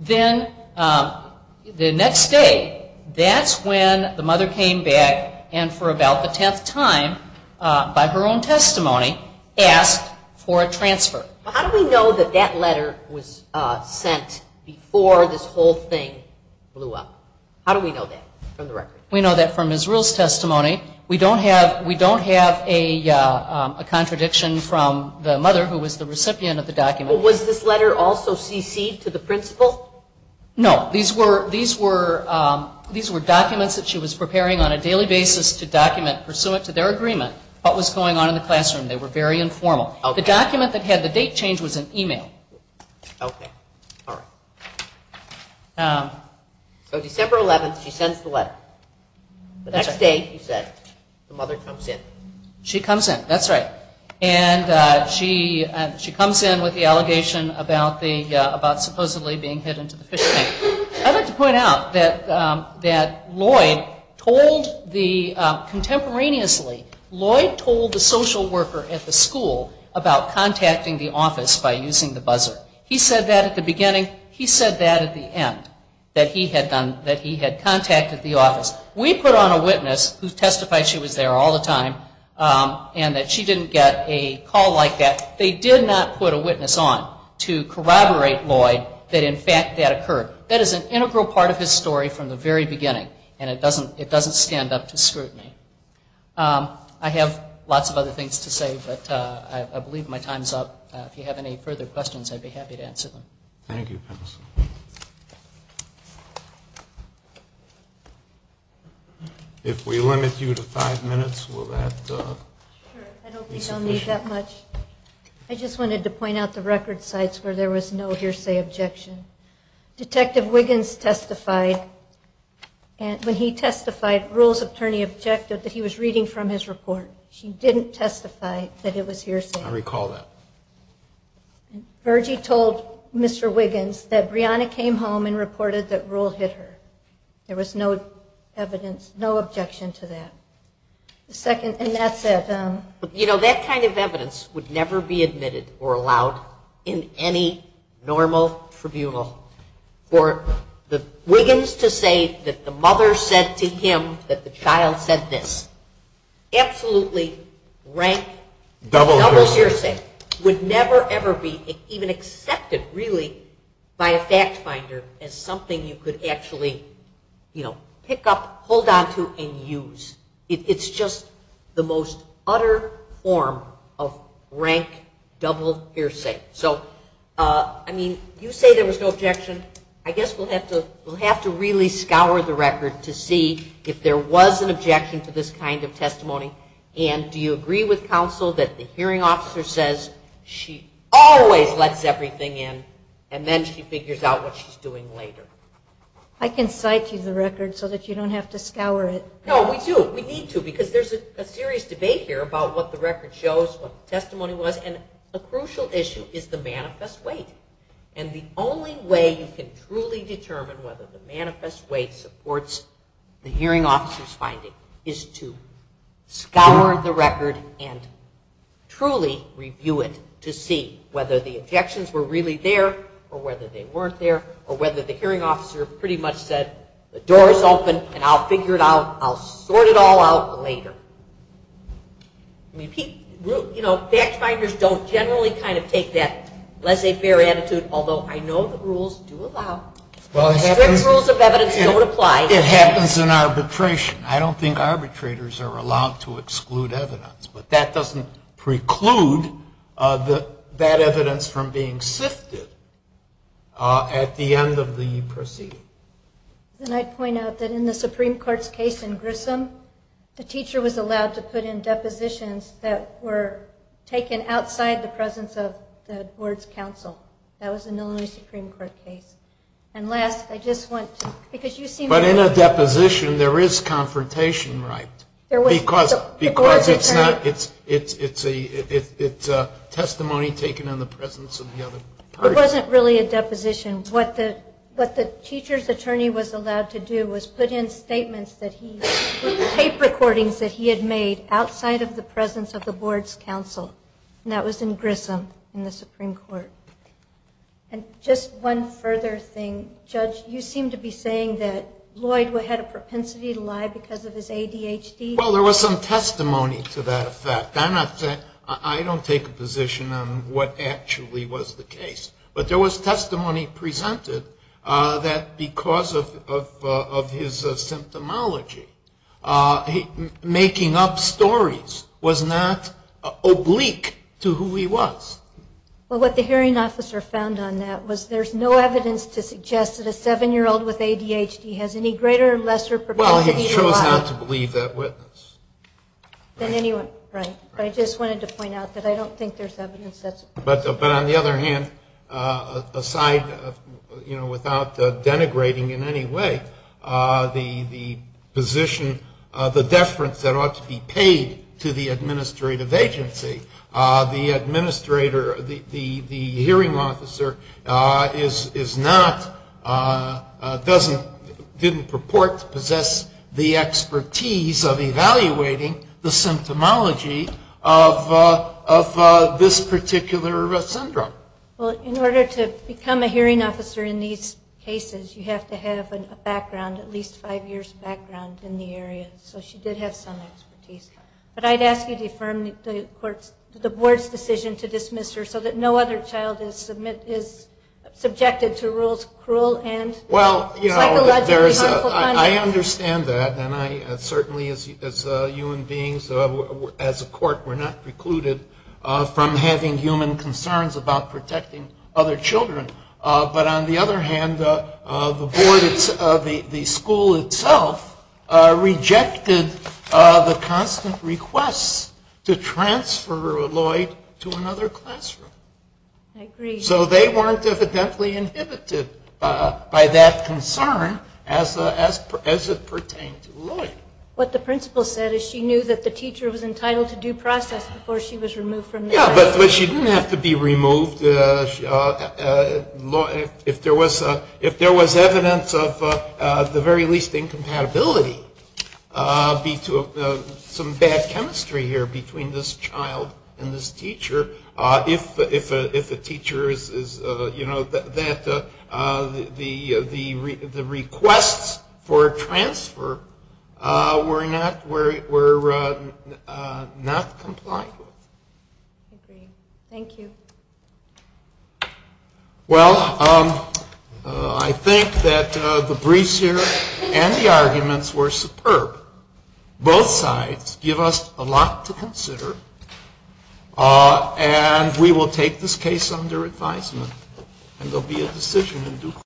Then the next day, that's when the mother came back, and for about the tenth time, by her own testimony, asked for a transfer. How do we know that that letter was sent before this whole thing blew up? How do we know that from the record? We know that from Ms. Rule's testimony. We don't have a contradiction from the mother, who was the recipient of the document. Was this letter also cc'd to the principal? No. These were documents that she was preparing on a daily basis to document, pursuant to their agreement, what was going on in the classroom. They were very informal. The document that had the date changed was an e-mail. So December 11th, she sends the letter. The next day, she said, the mother comes in. She comes in. That's right. And she comes in with the allegation about supposedly being hit into the fish tank. I'd like to point out that Lloyd told the, contemporaneously, Lloyd told the social worker at the school about contacting the office by using the buzzer. He said that at the beginning. He said that at the end, that he had contacted the office. We put on a witness, who testified she was there all the time, and that she didn't get a call like that. They did not put a witness on to corroborate Lloyd that, in fact, that occurred. That is an integral part of his story from the very beginning, and it doesn't stand up to scrutiny. I have lots of other things to say, but I believe my time is up. If you have any further questions, I'd be happy to answer them. Thank you. If we limit you to five minutes, we'll wrap it up. Sure. I don't think I'll need that much. I just wanted to point out the record sites where there was no hearsay objection. Detective Wiggins testified. When he testified, rules attorney objected that he was reading from his report. He didn't testify that it was hearsay. I recall that. Virgie told Mr. Wiggins that Brianna came home and reported that rules hit her. There was no objection to that. That kind of evidence would never be admitted or allowed in any normal tribunal. For Wiggins to say that the mother said to him that the child said this, absolutely rank double hearsay would never ever be even accepted, really, by a fact finder as something you could actually pick up, hold onto, and use. It's just the most utter form of rank double hearsay. So, I mean, you say there was no objection. I guess we'll have to really scour the record to see if there was an objection to this kind of testimony. And do you agree with counsel that the hearing officer says she always lets everything in and then she figures out what she's doing later? I can cite you the record so that you don't have to scour it. No, we do. We need to because there's a serious debate here about what the record shows, what the testimony was, and a crucial issue is the manifest weight. And the only way you can truly determine whether the manifest weight supports the hearing officer's finding is to scour the record and truly review it to see whether the objections were really there or whether they weren't there or whether the hearing officer pretty much said the door is open and I'll figure it out. I'll sort it all out later. You know, fact finders don't generally kind of take that laissez-faire attitude, although I know the rules do allow. Rules of evidence don't apply. It happens in arbitration. I don't think arbitrators are allowed to exclude evidence, but that doesn't preclude that evidence from being sifted at the end of the proceeding. And I'd point out that in the Supreme Court's case in Grissom, the teacher was allowed to put in depositions that were taken outside the presence of the board's counsel. That was in the only Supreme Court case. And, Les, I just want to, because you seem to... But in a deposition, there is confrontation, right? Because it's not, it's testimony taken in the presence of the other parties. It wasn't really a deposition. What the teacher's attorney was allowed to do was put in statements that he, tape recordings that he had made outside of the presence of the board's counsel, and that was in Grissom in the Supreme Court. And just one further thing, Judge, you seem to be saying that Lloyd had a propensity to lie because of his ADHD. Well, there was some testimony to that effect. I don't take a position on what actually was the case, but there was testimony presented that because of his symptomology, making up stories was not oblique to who he was. Well, what the hearing officer found on that was there's no evidence to suggest that a 7-year-old with ADHD has any greater or lesser propensity to lie. Well, he chose not to believe that witness. Right. I just wanted to point out that I don't think there's evidence that... But on the other hand, aside, you know, without denigrating in any way, the position, the deference that ought to be paid to the administrative agency, the administrator, the hearing officer is not, doesn't, didn't purport to possess the expertise of evaluating the symptomology of this particular syndrome. Well, in order to become a hearing officer in these cases, you have to have a background, at least five years' background in the area. So she did have some expertise. But I'd ask you to affirm the court, the board's decision to dismiss her so that no other child is subjected to rules cruel and psychological... I understand that, and I certainly, as human beings, as a court, we're not precluded from having human concerns about protecting other children. But on the other hand, the school itself rejected the constant request to transfer Lloyd to another classroom. So they weren't evidently inhibited by that concern as it pertained to Lloyd. What the principal said is she knew that the teacher was entitled to due process before she was removed from the classroom. Yeah, but she didn't have to be removed. If there was evidence of the very least incompatibility, some bad chemistry here between this child and this teacher, if a teacher is, you know, that the requests for transfer were not compliant. Thank you. Well, I think that the briefs here and the arguments were superb. Both sides give us a lot to consider, and we will take this case under advisement. And there will be a decision in due course.